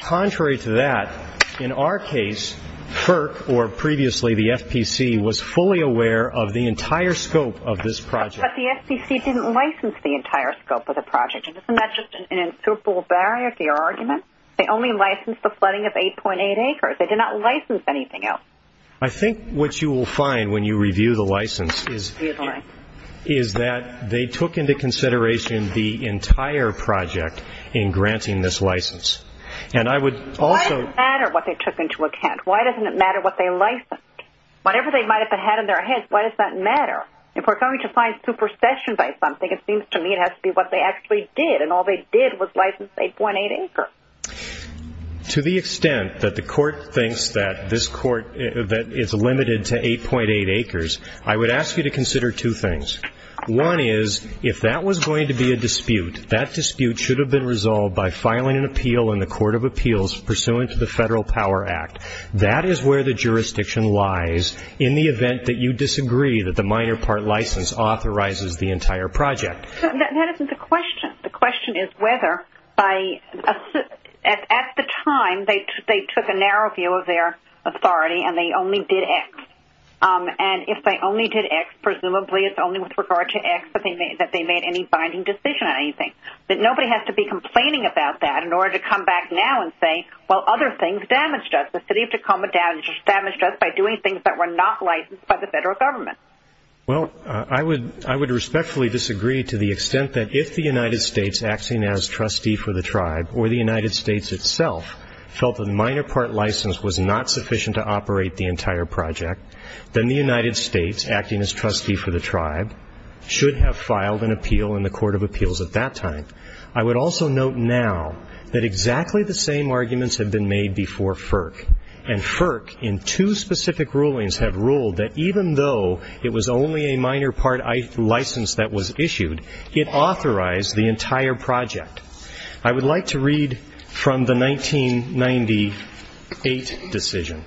Contrary to that, in our case, FERC, or previously the FPC, was fully aware of the entire scope of this project. But the FPC didn't license the entire scope of the project. Isn't that just an insuperable barrier to your argument? They only licensed the flooding of 8.8 acres. They did not license anything else. I think what you will find when you review the license is that they took into consideration the entire project in granting this license. Why does it matter what they took into account? Why doesn't it matter what they licensed? Whatever they might have had in their heads, why does that matter? If we're going to find supersession by something, it seems to me it has to be what they actually did, and all they did was license 8.8 acres. To the extent that the court thinks that this court is limited to 8.8 acres, I would ask you to consider two things. One is, if that was going to be a dispute, that dispute should have been resolved by filing an appeal in the Court of Appeals pursuant to the Federal Power Act. That is where the jurisdiction lies in the event that you disagree that the minor part license authorizes the entire project. That isn't the question. The question is whether, at the time, they took a narrow view of their authority and they only did X. And if they only did X, presumably it's only with regard to X that they made any binding decision on anything. Nobody has to be complaining about that in order to come back now and say, well, other things damaged us. The City of Tacoma damaged us by doing things that were not licensed by the federal government. Well, I would respectfully disagree to the extent that if the United States, acting as trustee for the tribe, or the United States itself felt the minor part license was not sufficient to operate the entire project, then the United States, acting as trustee for the tribe, should have filed an appeal in the Court of Appeals at that time. I would also note now that exactly the same arguments have been made before FERC, and FERC in two specific rulings have ruled that even though it was only a minor part license that was issued, it authorized the entire project. I would like to read from the 1998 decision.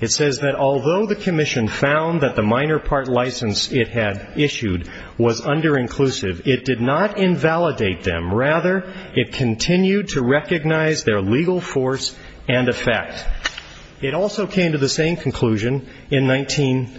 It says that although the commission found that the minor part license it had issued was under-inclusive, it did not invalidate them. Rather, it continued to recognize their legal force and effect. It also came to the same conclusion in 19,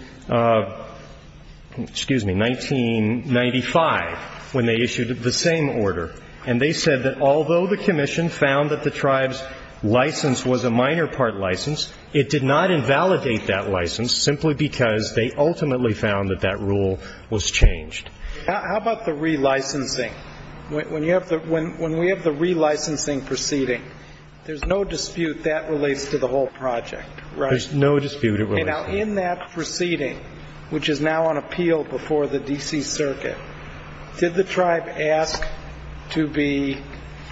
excuse me, 1995, when they issued the same order. And they said that although the commission found that the tribe's license was a minor part license, it did not invalidate that license simply because they ultimately found that that rule was changed. How about the relicensing? When we have the relicensing proceeding, there's no dispute that relates to the whole project, right? There's no dispute it relates to. Now, in that proceeding, which is now on appeal before the D.C. Circuit, did the tribe ask to be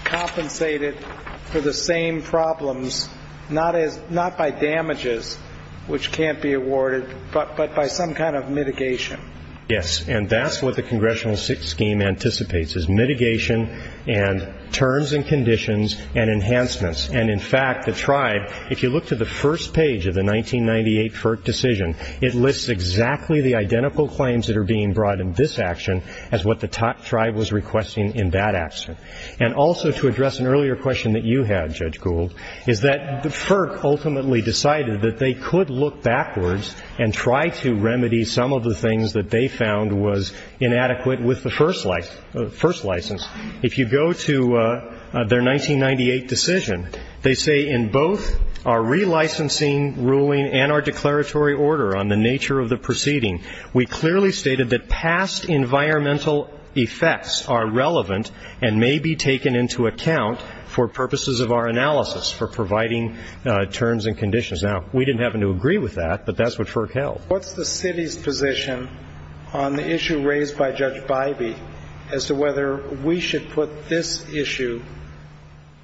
compensated for the same problems, not by damages, which can't be awarded, but by some kind of mitigation? Yes. And that's what the congressional scheme anticipates, is mitigation and terms and conditions and enhancements. And, in fact, the tribe, if you look to the first page of the 1998 FERC decision, it lists exactly the identical claims that are being brought in this action as what the tribe was requesting in that action. And also to address an earlier question that you had, Judge Gould, is that the FERC ultimately decided that they could look backwards and try to remedy some of the things that they found was inadequate with the first license. If you go to their 1998 decision, they say, in both our relicensing ruling and our declaratory order on the nature of the proceeding, we clearly stated that past environmental effects are relevant and may be taken into account for purposes of our analysis for providing terms and conditions. Now, we didn't happen to agree with that, but that's what FERC held. What's the city's position on the issue raised by Judge Bybee as to whether we should put this issue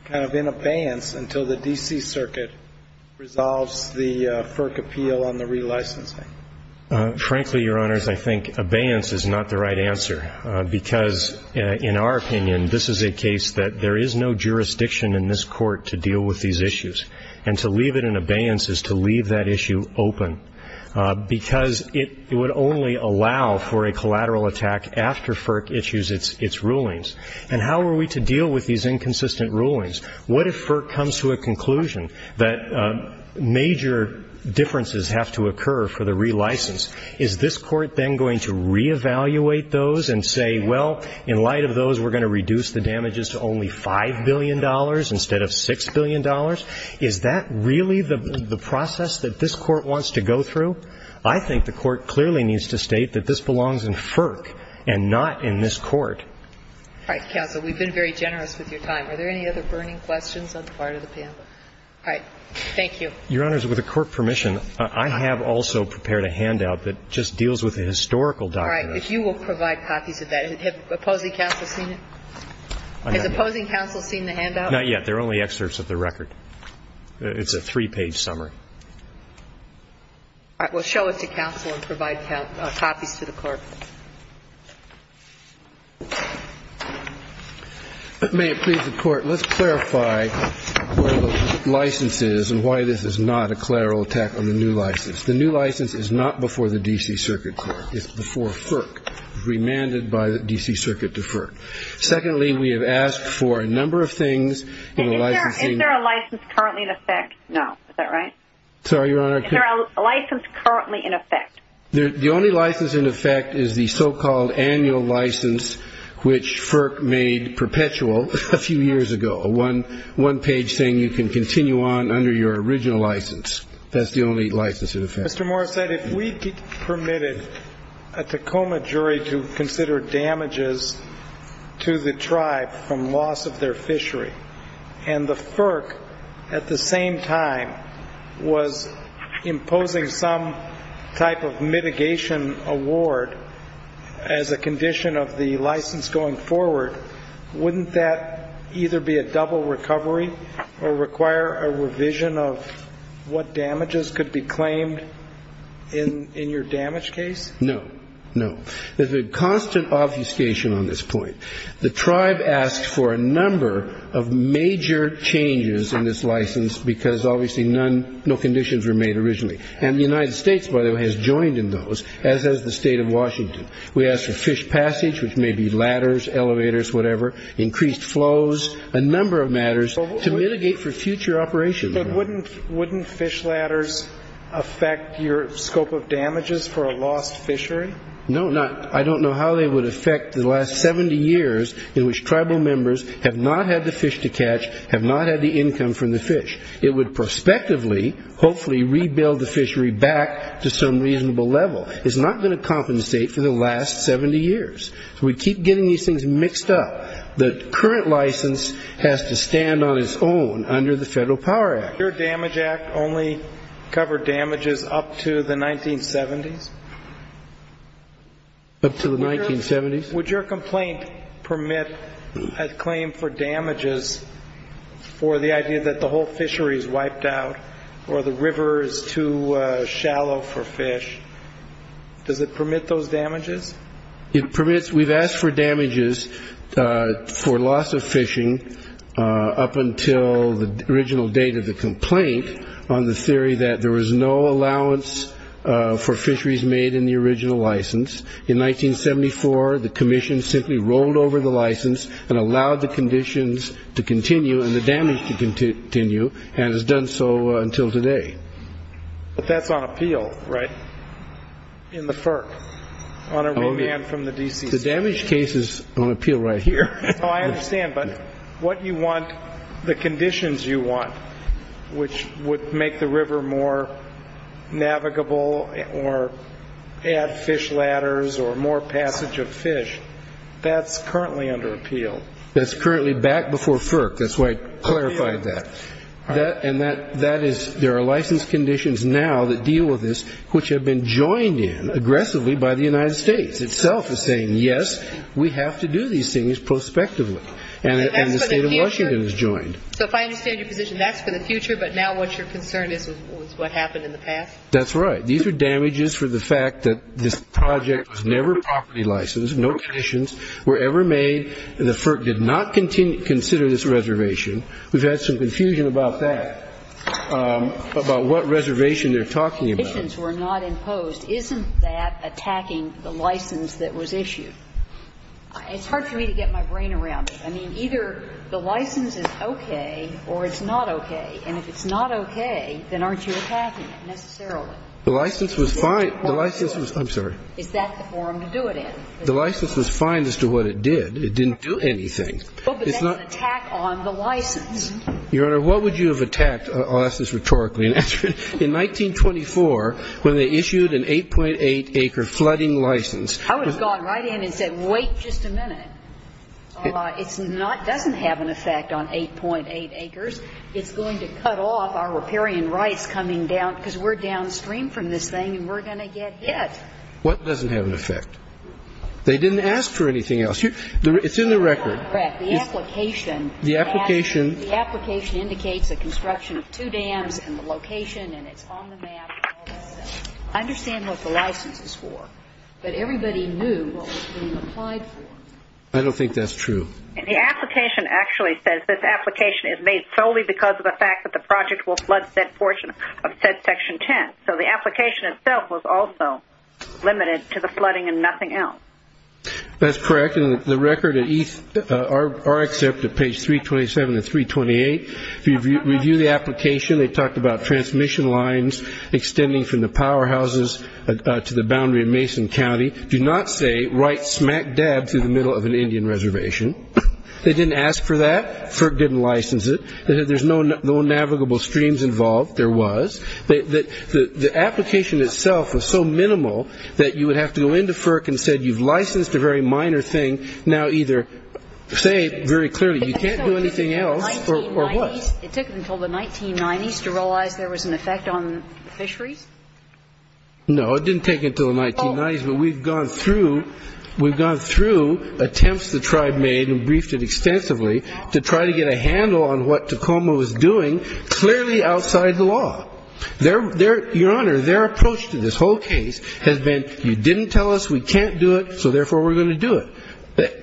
kind of in abeyance until the D.C. Circuit resolves the FERC appeal on the relicensing? Frankly, Your Honors, I think abeyance is not the right answer, because in our opinion this is a case that there is no jurisdiction in this Court to deal with these issues. And to leave it in abeyance is to leave that issue open, because it would only allow for a collateral attack after FERC issues its rulings. And how are we to deal with these inconsistent rulings? What if FERC comes to a conclusion that major differences have to occur for the relicense? Is this Court then going to reevaluate those and say, well, in light of those, we're going to reduce the damages to only $5 billion instead of $6 billion? Is that really the process that this Court wants to go through? I think the Court clearly needs to state that this belongs in FERC and not in this Court. All right, counsel, we've been very generous with your time. Are there any other burning questions on the part of the panel? All right. Thank you. Your Honors, with the Court permission, I have also prepared a handout that just deals with the historical document. All right. If you will provide copies of that. Has opposing counsel seen it? Has opposing counsel seen the handout? Not yet. They're only excerpts of the record. It's a three-page summary. All right. Well, show it to counsel and provide copies to the Court. May it please the Court, let's clarify where the license is and why this is not a collateral attack on the new license. The new license is not before the D.C. Circuit Court. It's before FERC, remanded by the D.C. Circuit to FERC. Secondly, we have asked for a number of things in the licensing. Is there a license currently in effect? No. Is that right? Sorry, Your Honor. Is there a license currently in effect? The only license in effect is the so-called annual license, which FERC made perpetual a few years ago, a one-page saying you can continue on under your original license. That's the only license in effect. Mr. Moore said if we permitted a Tacoma jury to consider damages to the tribe from loss of their fishery, and the FERC, at the same time, was imposing some type of mitigation award as a condition of the license going forward, wouldn't that either be a double recovery or require a revision of what damages could be claimed in your damage case? No. No. There's a constant obfuscation on this point. The tribe asked for a number of major changes in this license because obviously no conditions were made originally. And the United States, by the way, has joined in those, as has the State of Washington. We asked for fish passage, which may be ladders, elevators, whatever, increased flows, a number of matters to mitigate for future operations. But wouldn't fish ladders affect your scope of damages for a lost fishery? No. I don't know how they would affect the last 70 years in which tribal members have not had the fish to catch, have not had the income from the fish. It would prospectively, hopefully, rebuild the fishery back to some reasonable level. It's not going to compensate for the last 70 years. So we keep getting these things mixed up. The current license has to stand on its own under the Federal Power Act. Your Damage Act only covered damages up to the 1970s? Up to the 1970s. Would your complaint permit a claim for damages for the idea that the whole fishery is wiped out or the river is too shallow for fish? Does it permit those damages? It permits. We've asked for damages for loss of fishing up until the original date of the complaint on the theory that there was no allowance for fisheries made in the original license. In 1974, the commission simply rolled over the license and allowed the conditions to continue and the damage to continue, and has done so until today. But that's on appeal, right, in the FERC, on a remand from the D.C. State. The damage case is on appeal right here. No, I understand. But what you want, the conditions you want, which would make the river more navigable or add fish ladders or more passage of fish, that's currently under appeal. That's currently back before FERC. That's why I clarified that. And that is there are license conditions now that deal with this which have been joined in aggressively by the United States itself as saying, yes, we have to do these things prospectively. And the State of Washington has joined. So if I understand your position, that's for the future, but now what you're concerned is what happened in the past? That's right. These are damages for the fact that this project was never property licensed, no conditions were ever made, and the FERC did not consider this reservation. We've had some confusion about that, about what reservation they're talking about. But if the conditions were not imposed, isn't that attacking the license that was issued? It's hard for me to get my brain around it. I mean, either the license is okay or it's not okay. And if it's not okay, then aren't you attacking it necessarily? The license was fine. I'm sorry. Is that the forum to do it in? The license was fine as to what it did. It didn't do anything. But that's an attack on the license. Your Honor, what would you have attacked? I'll ask this rhetorically. In 1924, when they issued an 8.8-acre flooding license. I would have gone right in and said, wait just a minute. It doesn't have an effect on 8.8 acres. It's going to cut off our riparian rights coming down, because we're downstream from this thing and we're going to get hit. What doesn't have an effect? They didn't ask for anything else. It's in the record. Correct. The application. The application. The application indicates the construction of two dams and the location, and it's on the map. I understand what the license is for, but everybody knew what was being applied for. I don't think that's true. The application actually says this application is made solely because of the fact that the project will flood said portion of said Section 10. So the application itself was also limited to the flooding and nothing else. That's correct. In fact, in the record at RXF at page 327 and 328, if you review the application, they talked about transmission lines extending from the powerhouses to the boundary of Mason County. Do not say right smack dab through the middle of an Indian reservation. They didn't ask for that. FERC didn't license it. There's no navigable streams involved. There was. The application itself was so minimal that you would have to go into FERC and said you've licensed a very minor thing. Now either say very clearly you can't do anything else or what? It took until the 1990s to realize there was an effect on fisheries? No, it didn't take until the 1990s, but we've gone through attempts the tribe made and briefed it extensively to try to get a handle on what Tacoma was doing clearly outside the law. Your Honor, their approach to this whole case has been you didn't tell us, we can't do it, so therefore we're going to do it.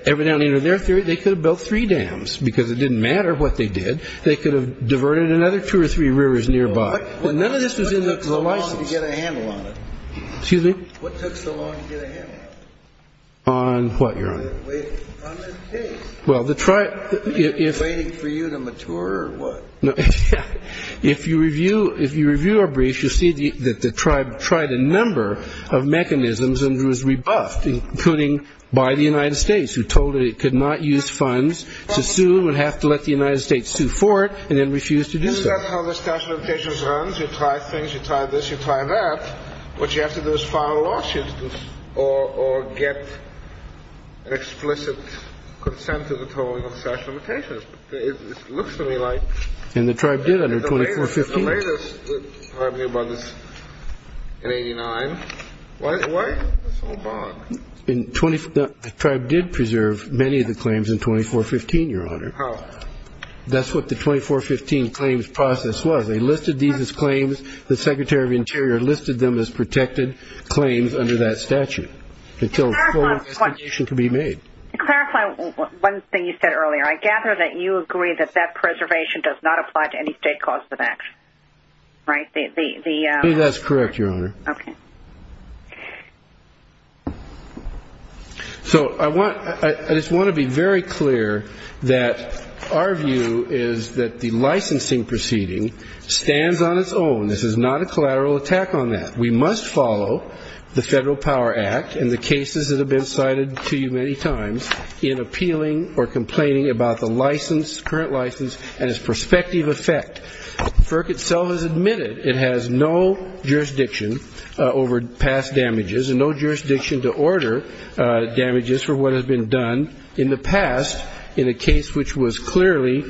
Every now and then in their theory they could have built three dams because it didn't matter what they did. They could have diverted another two or three rivers nearby. None of this was in the license. What took so long to get a handle on it? Excuse me? What took so long to get a handle on it? On what, Your Honor? On the case. Well, the tribe. Waiting for you to mature or what? If you review our briefs, you'll see that the tribe tried a number of mechanisms and was rebuffed, including by the United States, who told it it could not use funds to sue and would have to let the United States sue for it and then refuse to do so. Isn't that how the statute of limitations runs? You try things, you try this, you try that. What you have to do is file a lawsuit or get an explicit consent to the tolling of statute of limitations. It looks to me like the latest tribe knew about this in 89. What? The tribe did preserve many of the claims in 2415, Your Honor. How? That's what the 2415 claims process was. They listed these as claims. The Secretary of Interior listed them as protected claims under that statute until a full investigation could be made. To clarify one thing you said earlier, I gather that you agree that that preservation does not apply to any state cause of action, right? Maybe that's correct, Your Honor. Okay. So I just want to be very clear that our view is that the licensing proceeding stands on its own. This is not a collateral attack on that. We must follow the Federal Power Act and the cases that have been cited to you many times in appealing or complaining about the license, current license, and its prospective effect. The FERC itself has admitted it has no jurisdiction over past damages and no jurisdiction to order damages for what has been done in the past in a case which was clearly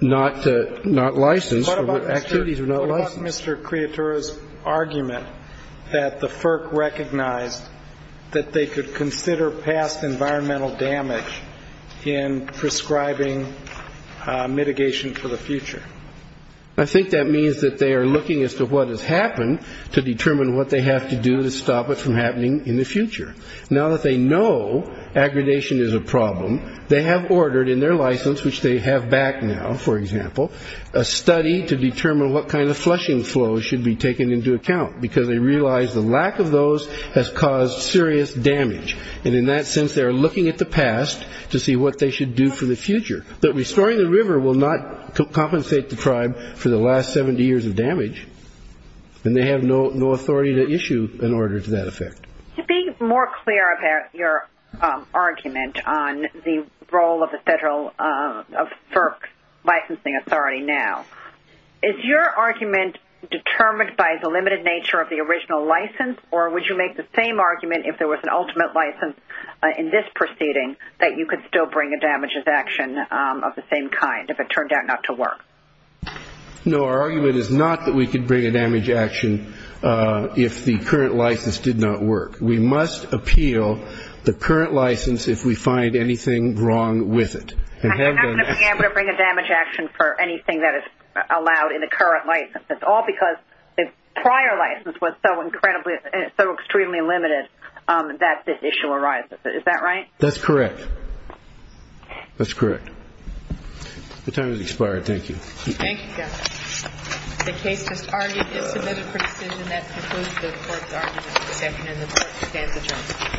not licensed or activities were not licensed. What about Mr. Creatura's argument that the FERC recognized that they could consider past environmental damage in prescribing mitigation for the future? I think that means that they are looking as to what has happened to determine what they have to do to stop it from happening in the future. Now that they know aggradation is a problem, they have ordered in their license, which they have back now, for example, a study to determine what kind of flushing flows should be taken into account, because they realize the lack of those has caused serious damage. And in that sense, they are looking at the past to see what they should do for the future. But restoring the river will not compensate the tribe for the last 70 years of damage, and they have no authority to issue an order to that effect. To be more clear about your argument on the role of the Federal FERC licensing authority now, is your argument determined by the limited nature of the original license, or would you make the same argument if there was an ultimate license in this proceeding, that you could still bring a damages action of the same kind if it turned out not to work? No, our argument is not that we could bring a damage action if the current license did not work. We must appeal the current license if we find anything wrong with it. And you're not going to be able to bring a damage action for anything that is allowed in the current license. It's all because the prior license was so incredibly and so extremely limited that this issue arises. Is that right? That's correct. That's correct. Your time has expired. Thank you. Thank you, Judge. The case just argued is submitted for decision. That concludes the court's argument for the second, and the court stands adjourned.